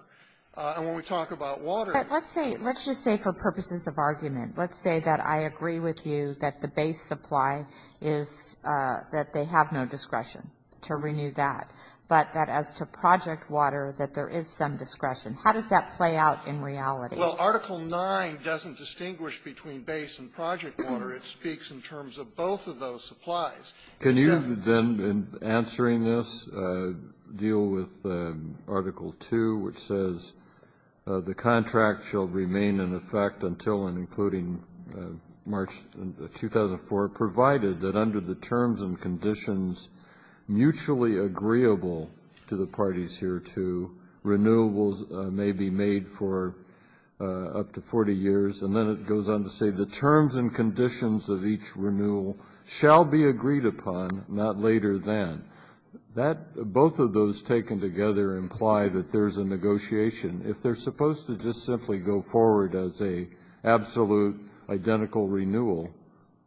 And when we talk about water... But let's say, let's just say for purposes of argument, let's say that I agree with you that the base supply is that they have no discretion to renew that, but that as to project water that there is some discretion. How does that play out in reality? Well, Article 9 doesn't distinguish between base and project water. It speaks in terms of both of those supplies. Can you then, in answering this, deal with Article 2, which says the contract shall remain in effect until and including March 2004, provided that under the terms and conditions mutually agreeable to the parties hereto, renewables may be made for up to 40 years? And then it goes on to say the terms and conditions of each renewal shall be agreed upon, not later than. Both of those taken together imply that there is a negotiation. If they're supposed to just simply go forward as a absolute identical renewal,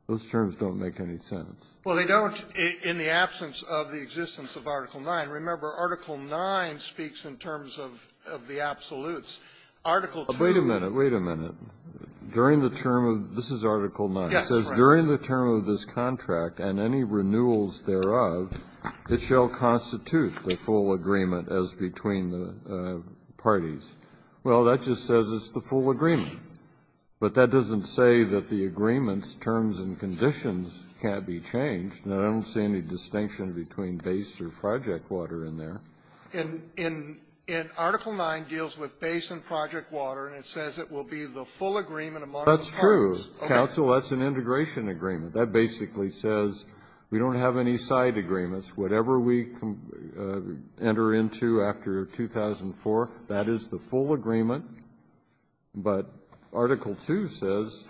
those terms don't make any sense. Well, they don't in the absence of the existence of Article 9. Remember, Article 9 speaks in terms of the absolutes. Wait a minute. Wait a minute. During the term of... This is Article 9. It says during the term of this contract and any renewals thereof, it shall constitute the full agreement as between the parties. Well, that just says it's the full agreement. But that doesn't say that the agreement's terms and conditions can't be changed. Now, I don't see any distinction between base or project water in there. And Article 9 deals with base and project water, and it says it will be the full agreement among the parties. That's true. Counsel, that's an integration agreement. That basically says we don't have any side agreements. Whatever we enter into after 2004, that is the full agreement. But Article 2 says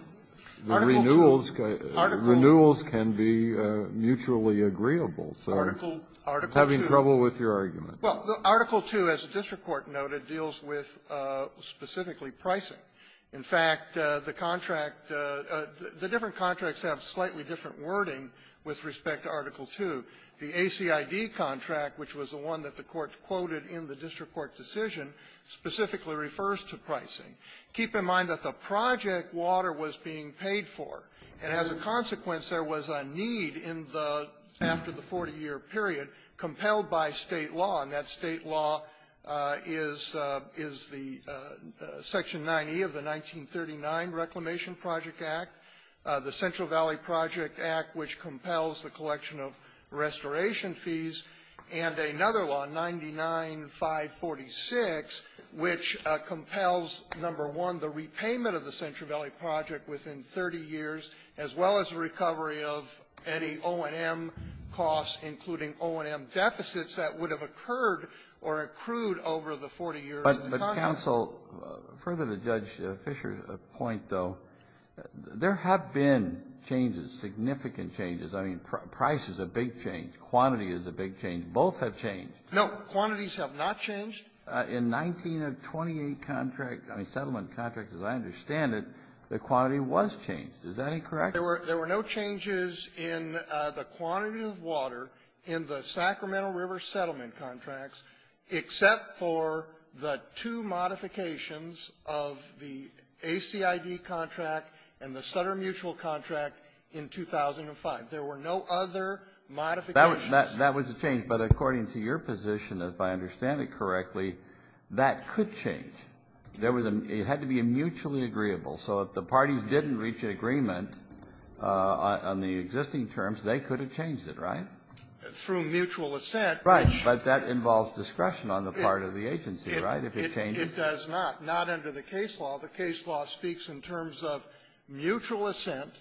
renewals can be mutually agreeable. So I'm having trouble with your argument. Well, Article 2, as the district court noted, deals with specifically pricing. In fact, the different contracts have slightly different wording with respect to Article 2. The ACID contract, which was the one that the court quoted in the district court decision, specifically refers to pricing. Keep in mind that the project water was being paid for, and as a consequence there was a need after the 40-year period compelled by state law, and that state law is the Section 90 of the 1939 Reclamation Project Act, the Central Valley Project Act, which compels the collection of restoration fees, and another law, 99-546, which compels, number one, the repayment of the Central Valley Project within 30 years, as well as the recovery of any O&M costs, including O&M deficits, that would have occurred or accrued over the 40 years of the contract. But, counsel, further to Judge Fischer's point, though, there have been changes, significant changes. I mean, price is a big change. Quantity is a big change. Both have changed. No, quantities have not changed. In 1928 contract, I mean, settlement contract, as I understand it, the quantity was changed. Is that correct? There were no changes in the quantity of water in the Sacramento River settlement contracts except for the two modifications of the ACID contract and the Sutter Mutual contract in 2005. There were no other modifications. That was a change, but according to your position, if I understand it correctly, that could change. It had to be a mutually agreeable. So if the parties didn't reach an agreement on the existing terms, they could have changed it, right? Through mutual assent. Right, but that involves discretion on the part of the agency, right, if it changes? It does not, not under the case law. The case law speaks in terms of mutual assent,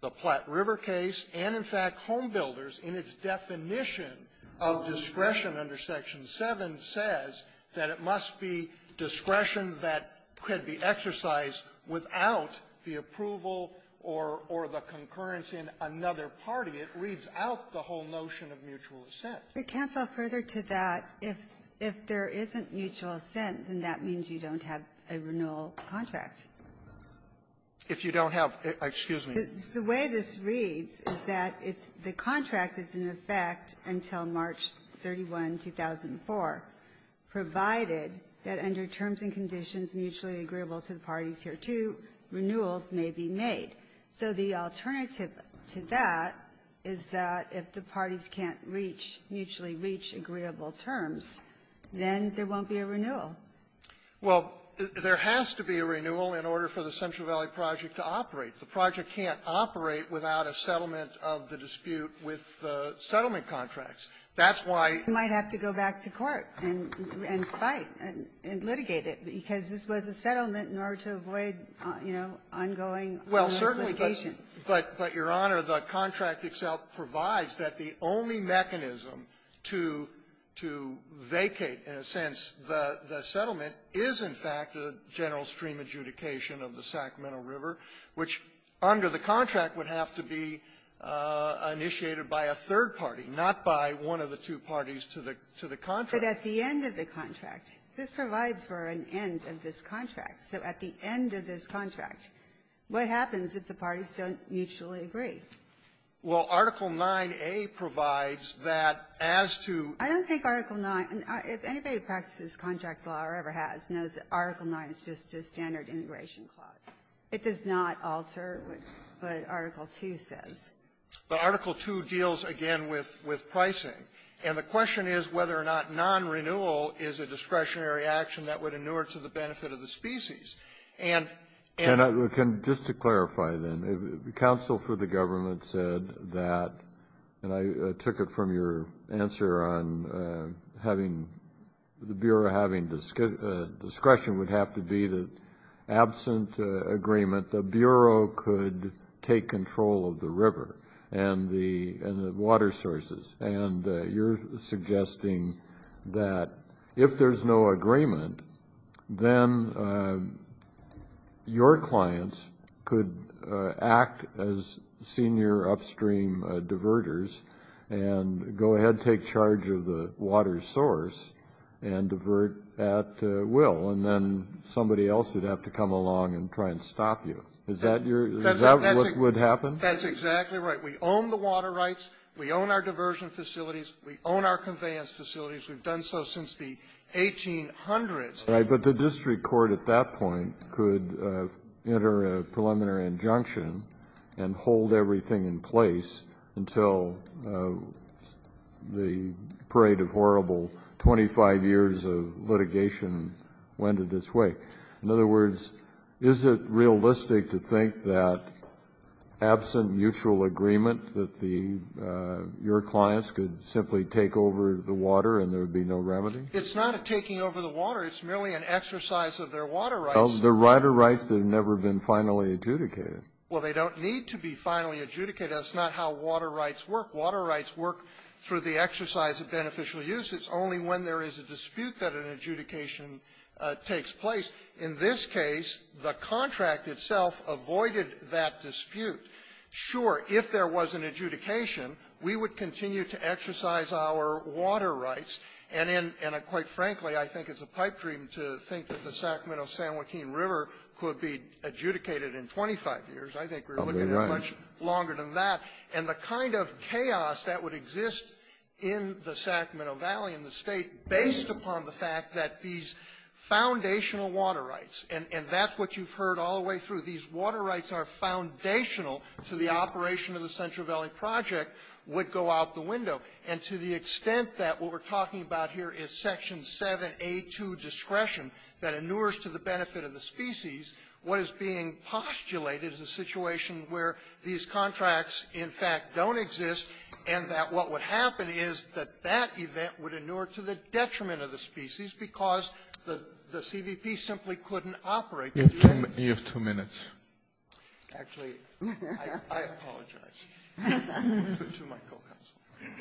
the Platte River case, and, in fact, Homebuilders in its definition of discretion under Section 7 says that it must be discretion that could be exercised without the approval or the concurrence in another party. It reads out the whole notion of mutual assent. You can't go further to that if there isn't mutual assent, and that means you don't have a renewal contract. If you don't have, excuse me. The way this reads is that the contract is in effect until March 31, 2004, provided that under terms and conditions mutually agreeable to the parties here, too, renewals may be made. So the alternative to that is that if the parties can't mutually reach agreeable terms, then there won't be a renewal. Well, there has to be a renewal in order for the Central Valley Project to operate. The project can't operate without a settlement of the dispute with the settlement contracts. You might have to go back to court and fight and litigate it because this was a settlement in order to avoid ongoing litigation. Well, certainly, but, Your Honor, the contract itself provides that the only mechanism to vacate, in a sense, the settlement is, in fact, the general stream adjudication of the Sacramento River, which under the contract would have to be initiated by a third party, not by one of the two parties to the contract. But at the end of the contract, this provides for an end of this contract. So at the end of this contract, what happens if the parties don't mutually agree? Well, Article 9A provides that as to – I don't think Article 9 – if anybody who practices contract law or ever has knows that Article 9 is just a standard integration clause. It does not alter what Article 2 says. But Article 2 deals, again, with pricing. And the question is whether or not non-renewal is a discretionary action that would inure to the benefit of the species. And – And just to clarify then, the counsel for the government said that – and I took it from your answer on having – the discretion would have to be that absent agreement, the Bureau could take control of the river and the water sources. And you're suggesting that if there's no agreement, then your clients could act as senior upstream diverters and go ahead and take charge of the water source and divert at will, and then somebody else would have to come along and try and stop you. Is that your – is that what would happen? That's exactly right. We own the water rights. We own our diversion facilities. We own our conveyance facilities. We've done so since the 1800s. But the district court at that point could enter a preliminary injunction and hold everything in place until the parade of horrible 25 years of litigation landed its wake. In other words, is it realistic to think that absent mutual agreement that the – your clients could simply take over the water and there would be no remedy? It's not a taking over the water. It's merely an exercise of their water rights. Of their water rights that have never been finally adjudicated. Well, they don't need to be finally adjudicated. That's not how water rights work. Water rights work through the exercise of beneficial use. It's only when there is a dispute that an adjudication takes place. In this case, the contract itself avoided that dispute. Sure, if there was an adjudication, we would continue to exercise our water rights. And quite frankly, I think it's a pipe dream to think that the Sacramento-San Joaquin River could be adjudicated in 25 years. I think we're looking at much longer than that. And the kind of chaos that would exist in the Sacramento Valley and the state based upon the fact that these foundational water rights – and that's what you've heard all the way through. These water rights are foundational to the operation of the Central Valley Project would go out the window. And to the extent that what we're talking about here is Section 7A2 discretion that inures to the benefit of the species, what is being postulated is a situation where these contracts, in fact, don't exist and that what would happen is that that event would inure to the detriment of the species because the CDP simply couldn't operate. You have two minutes. Actually, I apologize. Two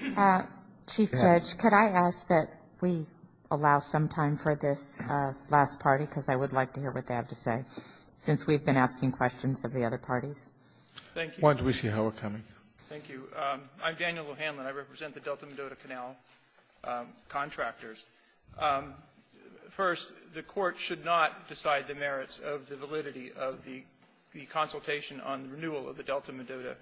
minutes. Chief Judge, could I ask that we allow some time for this last party because I would like to hear what they have to say since we've been asking questions of the other parties. Why don't we see how we're coming? Thank you. I'm Daniel Lohanlin. I represent the Delta-Medota Canal contractors. First, the court should not decide the merits of the validity of the consultation on renewal of the Delta-Medota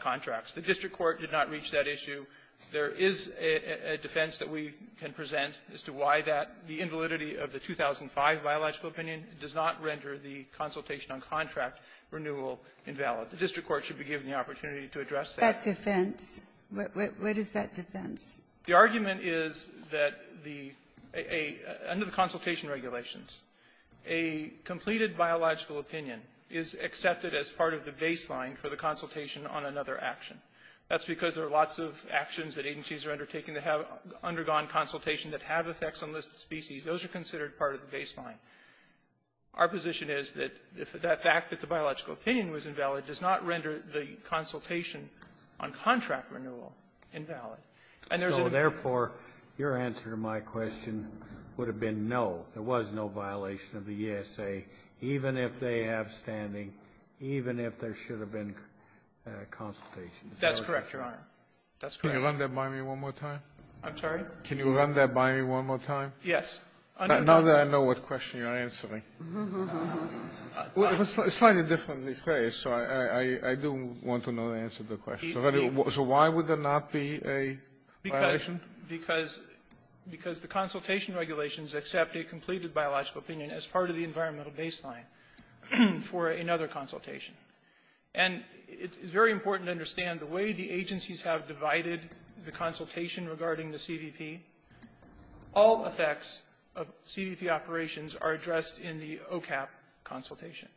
contracts. The district court did not reach that issue. There is a defense that we can present as to why the invalidity of the 2005 biological opinion does not render the consultation on contract renewal invalid. The district court should be given the opportunity to address that. What is that defense? The argument is that under the consultation regulations, a completed biological opinion is accepted as part of the baseline for the consultation on another action. That's because there are lots of actions that agencies are undertaking that have undergone consultation that have effects on listed species. Those are considered part of the baseline. Our position is that the fact that the biological opinion was invalid does not render the consultation on contract renewal invalid. Therefore, your answer to my question would have been no. There was no violation of the ESA, even if they have standing, even if there should have been consultation. That's correct, Your Honor. Can you run that by me one more time? I'm sorry? Can you run that by me one more time? Yes. Now that I know what question you're answering. It's slightly different in this case, so I do want to know the answer to the question. So why would there not be a violation? Again, because the consultation regulations accept a completed biological opinion as part of the environmental baseline for another consultation. And it's very important to understand the way the agencies have divided the consultation regarding the CVP. All effects of CVP operations are addressed in the OCAP consultation,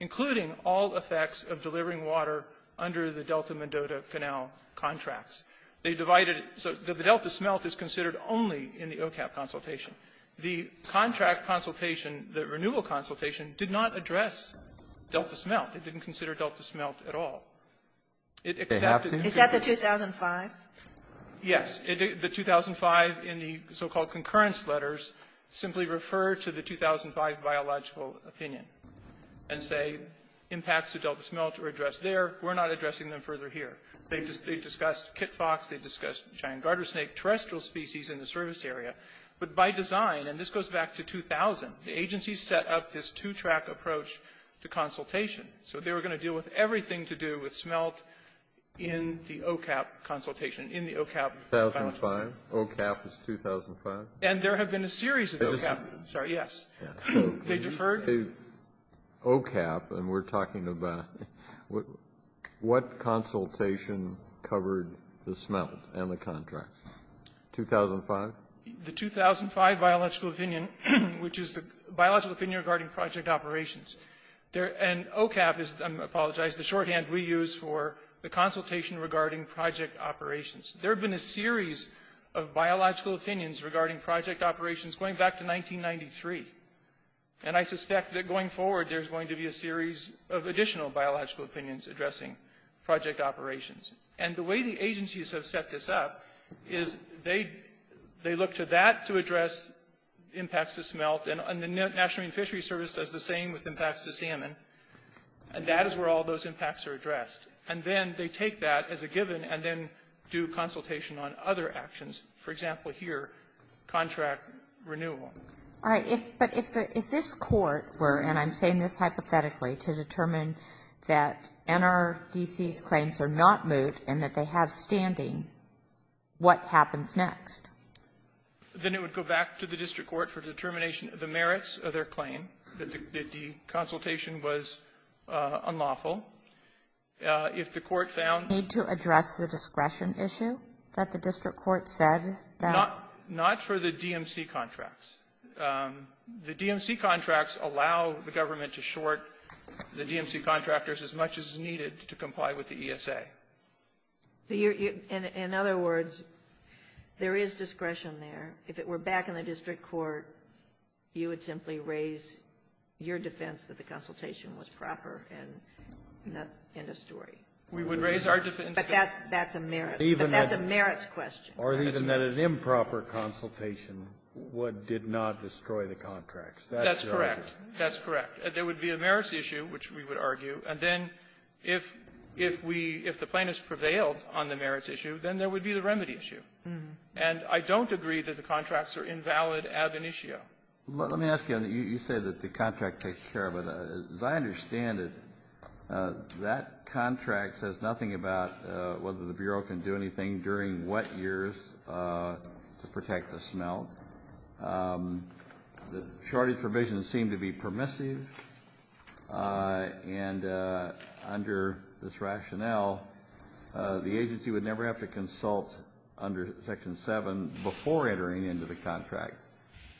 including all effects of delivering water under the Delta-Mendota-Fennel contracts. So the Delta smelt is considered only in the OCAP consultation. The contract consultation, the renewal consultation, did not address Delta smelt. It didn't consider Delta smelt at all. Is that the 2005? Yes. The 2005 in the so-called concurrence letters simply referred to the 2005 biological opinion and say impacts of Delta smelt were addressed there. We're not addressing them further here. They discussed kit fox. They discussed giant garter snake, terrestrial species in the service area. But by design, and this goes back to 2000, the agency set up this two-track approach to consultation. So they were going to deal with everything to do with smelt in the OCAP consultation. In the OCAP. 2005. OCAP is 2005. And there have been a series of OCAP. Sorry, yes. They deferred. OCAP, and we're talking about what consultation covered the smelt and the contracts? 2005? The 2005 biological opinion, which is the biological opinion regarding project operations. And OCAP is, I apologize, the shorthand we use for the consultation regarding project operations. There have been a series of biological opinions regarding project operations going back to 1993. And I suspect that going forward there's going to be a series of additional biological opinions addressing project operations. And the way the agencies have set this up is they look to that to address impacts of smelt. And the National Marine Fishery Service does the same with impacts of salmon. And that is where all those impacts are addressed. And then they take that as a given and then do consultation on other actions. For example, here, contract renewal. All right. But if this court were, and I'm saying this hypothetically, to determine that NRDC's claims are not moot and that they have standing, what happens next? Then it would go back to the district court for determination of the merits of their claim, that the consultation was unlawful. If the court found. Need to address the discretion issue that the district court said. Not for the DMC contracts. The DMC contracts allow the government to short the DMC contractors as much as is needed to comply with the ESA. In other words, there is discretion there. If it were back in the district court, you would simply raise your defense that the consultation was proper in the story. We would raise our defense. But that's a merits question. Or even that an improper consultation did not destroy the contracts. That's correct. That's correct. There would be a merits issue, which we would argue. And then if the plaintiff prevailed on the merits issue, then there would be the remedy issue. And I don't agree that the contracts are invalid as an issue. Let me ask you. You said that the contract takes care of it. As I understand it, that contract says nothing about whether the Bureau can do anything during wet years to protect the smell. Shortage provisions seem to be permissive. And under this rationale, the agency would never have to consult under Section 7 before entering into the contract.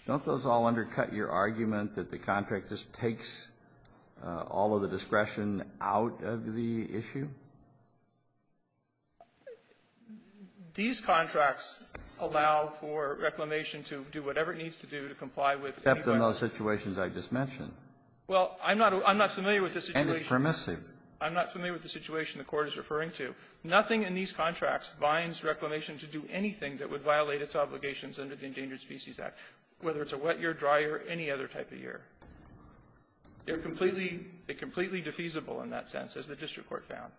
Don't those all undercut your argument that the contract just takes all of the discretion out of the issue? These contracts allow for reclamation to do whatever it needs to do to comply with the requirements. Except in those situations I just mentioned. Well, I'm not familiar with the situation. And it's permissive. I'm not familiar with the situation the court is referring to. Nothing in these contracts binds reclamation to do anything that would violate its obligations under the Endangered Species Act, whether it's a wet year, dry year, or any other type of year. They're completely defeasible in that sense, as the district court found.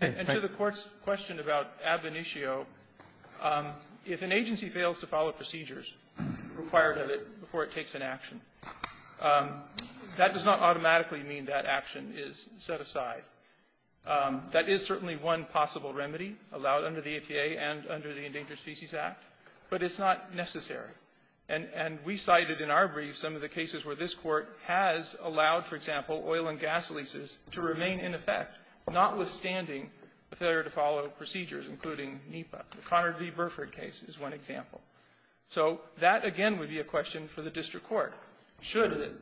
And to the court's question about ad venitio, if an agency fails to follow procedures required of it before it takes an action, that does not automatically mean that action is set aside. That is certainly one possible remedy allowed under the EPA and under the Endangered Species Act. But it's not necessary. And we cited in our brief some of the cases where this court has allowed, for example, oil and gas leases to remain in effect, notwithstanding the failure to follow procedures, including NEPA. The Conard v. Burford case is one example. So that, again, would be a question for the district court. Should it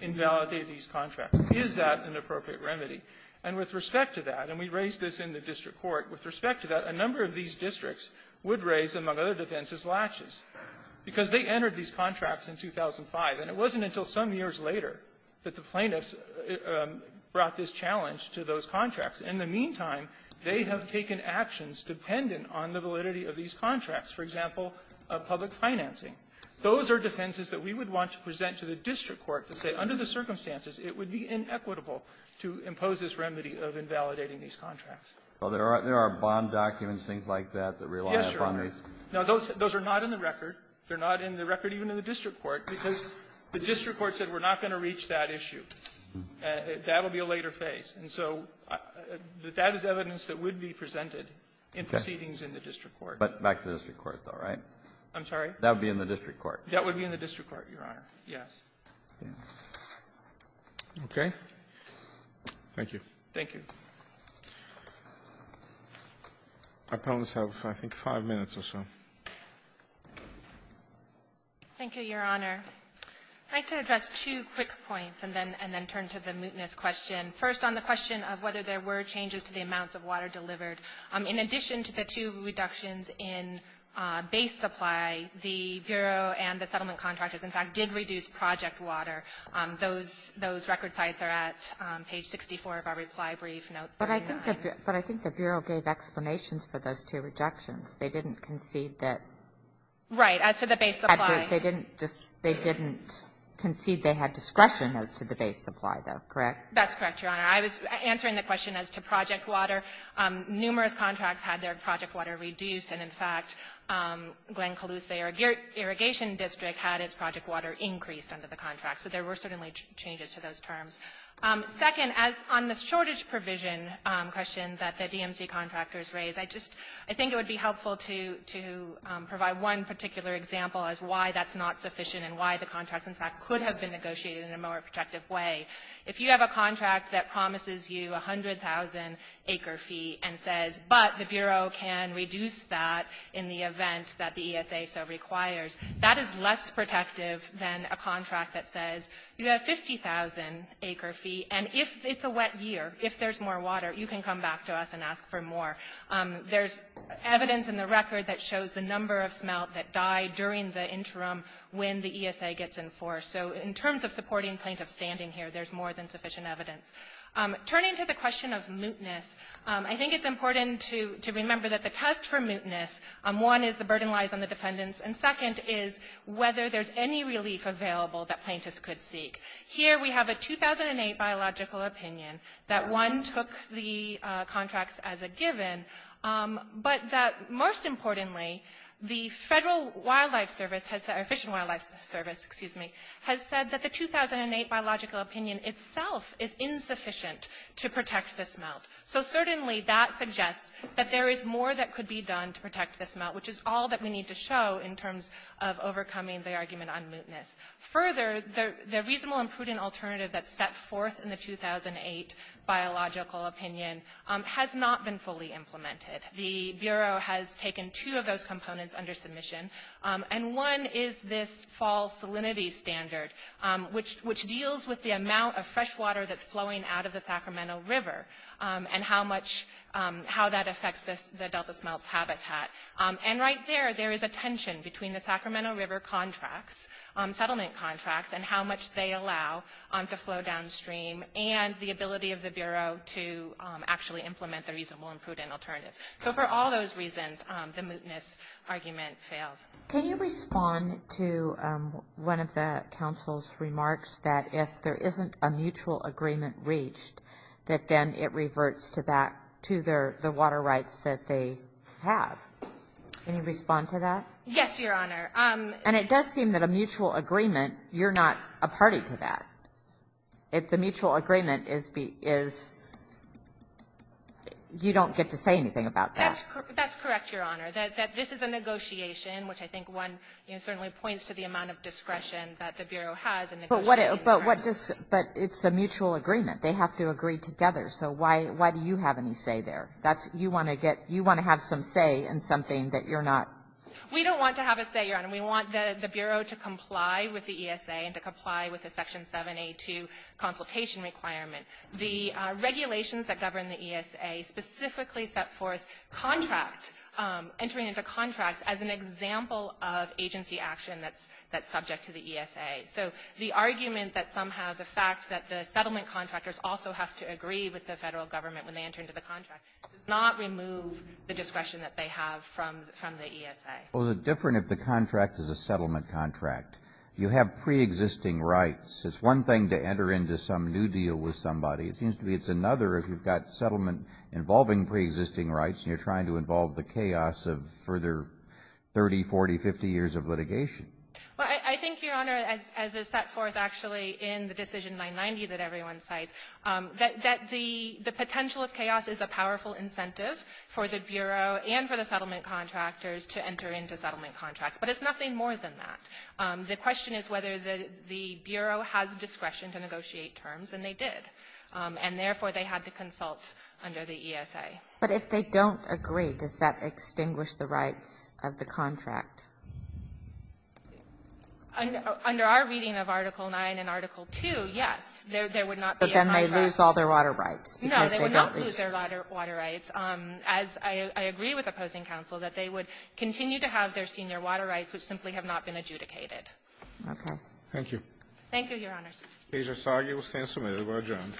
invalidate these contracts? Is that an appropriate remedy? And with respect to that, and we raised this in the district court, with respect to that, a number of these districts would raise, among other defenses, latches. Because they entered these contracts in 2005, and it wasn't until some years later that the plaintiffs brought this challenge to those contracts. In the meantime, they have taken actions dependent on the validity of these contracts. For example, public financing. Those are defenses that we would want to present to the district court to say, under the circumstances, it would be inequitable to impose this remedy of invalidating these contracts. So there are bond documents, things like that, that rely upon these? Yes, Your Honor. Now, those are not in the record. They're not in the record even in the district court, because the district court said we're not going to reach that issue. That will be a later phase. And so that is evidence that would be presented in proceedings in the district court. But back to the district court, though, right? I'm sorry? That would be in the district court. That would be in the district court, Your Honor. Yes. Okay. Thank you. Thank you. Our opponents have, I think, five minutes or so. Thank you, Your Honor. I'd like to address two quick points, and then turn to the mootness question. First, on the question of whether there were changes to the amounts of water delivered. In addition to the two reductions in base supply, the Bureau and the settlement contractors, in fact, did reduce project water. Those record sites are at page 64 of our reply brief notes. But I think the Bureau gave explanations for those two rejections. They didn't concede that they didn't concede they had discretion as to the base supply. That's correct? That's correct, Your Honor. I was answering the question as to project water. Numerous contracts had their project water reduced. And, in fact, Glen Caloosay Irrigation District had its project water increased under the contract. So there were certainly changes to those terms. Second, on the shortage provision question that the DMC contractors raised, I think it would be helpful to provide one particular example as to why that's not sufficient and why the contract, in fact, could have been negotiated in a more effective way. If you have a contract that promises you a 100,000-acre fee and says, but the Bureau can reduce that in the event that the ESA so requires, that is less protective than a contract that says you have a 50,000-acre fee, and it's a wet year. If there's more water, you can come back to us and ask for more. There's evidence in the record that shows the number of smelt that died during the interim when the ESA gets enforced. So in terms of supporting plaintiffs standing here, there's more than sufficient evidence. Turning to the question of mootness, I think it's important to remember that the test for mootness, one is the burden lies on the dependents, and second is whether there's any relief available that plaintiffs could seek. Here we have a 2008 biological opinion that one took the contracts as a given, but that most importantly, the Fish and Wildlife Service has said that the 2008 biological opinion itself is insufficient to protect the smelt. So certainly that suggests that there is more that could be done to protect the smelt, which is all that we need to show in terms of overcoming the argument on mootness. Further, the reasonable and prudent alternative that sets forth in the 2008 biological opinion has not been fully implemented. The Bureau has taken two of those components under submission, and one is this fall salinity standard, which deals with the amount of fresh water that's flowing out of the Sacramento River and how that affects the delta smelt's habitat. And right there, there is a tension between the Sacramento River contracts, settlement contracts, and how much they allow to flow downstream and the ability of the Bureau to actually implement the reasonable and prudent alternative. So for all those reasons, the mootness argument fails. Can you respond to one of the Council's remarks that if there isn't a mutual agreement reached, that then it reverts to the water rights that they have? Can you respond to that? Yes, Your Honor. And it does seem that a mutual agreement, you're not a party to that. If the mutual agreement is, you don't get to say anything about that. That's correct, Your Honor. That this is a negotiation, which I think one certainly points to the amount of discretion that the Bureau has. But it's a mutual agreement. They have to agree together. So why do you have any say there? You want to have some say in something that you're not. We don't want to have a say, Your Honor. We want the Bureau to comply with the ESA and to comply with the Section 782 consultation requirements. The regulations that govern the ESA specifically set forth contracts, entering into contracts as an example of agency action that's subject to the ESA. So the argument that somehow the fact that the settlement contractors also have to agree with the federal government when they enter into the contract does not remove the discretion that they have from the ESA. Well, the difference is the contract is a settlement contract. You have preexisting rights. It's one thing to enter into some new deal with somebody. It seems to me it's another if you've got settlement involving preexisting rights and you're trying to involve the chaos of further 30, 40, 50 years of litigation. Well, I think, Your Honor, as is set forth actually in the Decision 990 that everyone cites, that the potential of chaos is a powerful incentive for the Bureau and for the settlement contractors to enter into settlement contracts. But it's nothing more than that. The question is whether the Bureau has discretion to negotiate terms, and they did, and therefore they had to consult under the ESA. But if they don't agree, does that extinguish the rights of the contract? Under our reading of Article 9 and Article 2, yes, there would not be a contract. But then they lose all their water rights. No, they do not lose their water rights. I agree with opposing counsel that they would continue to have their senior water rights, which simply have not been adjudicated. Okay. Thank you. Thank you, Your Honor. These are solid. You will stand submitted. We'll adjourn.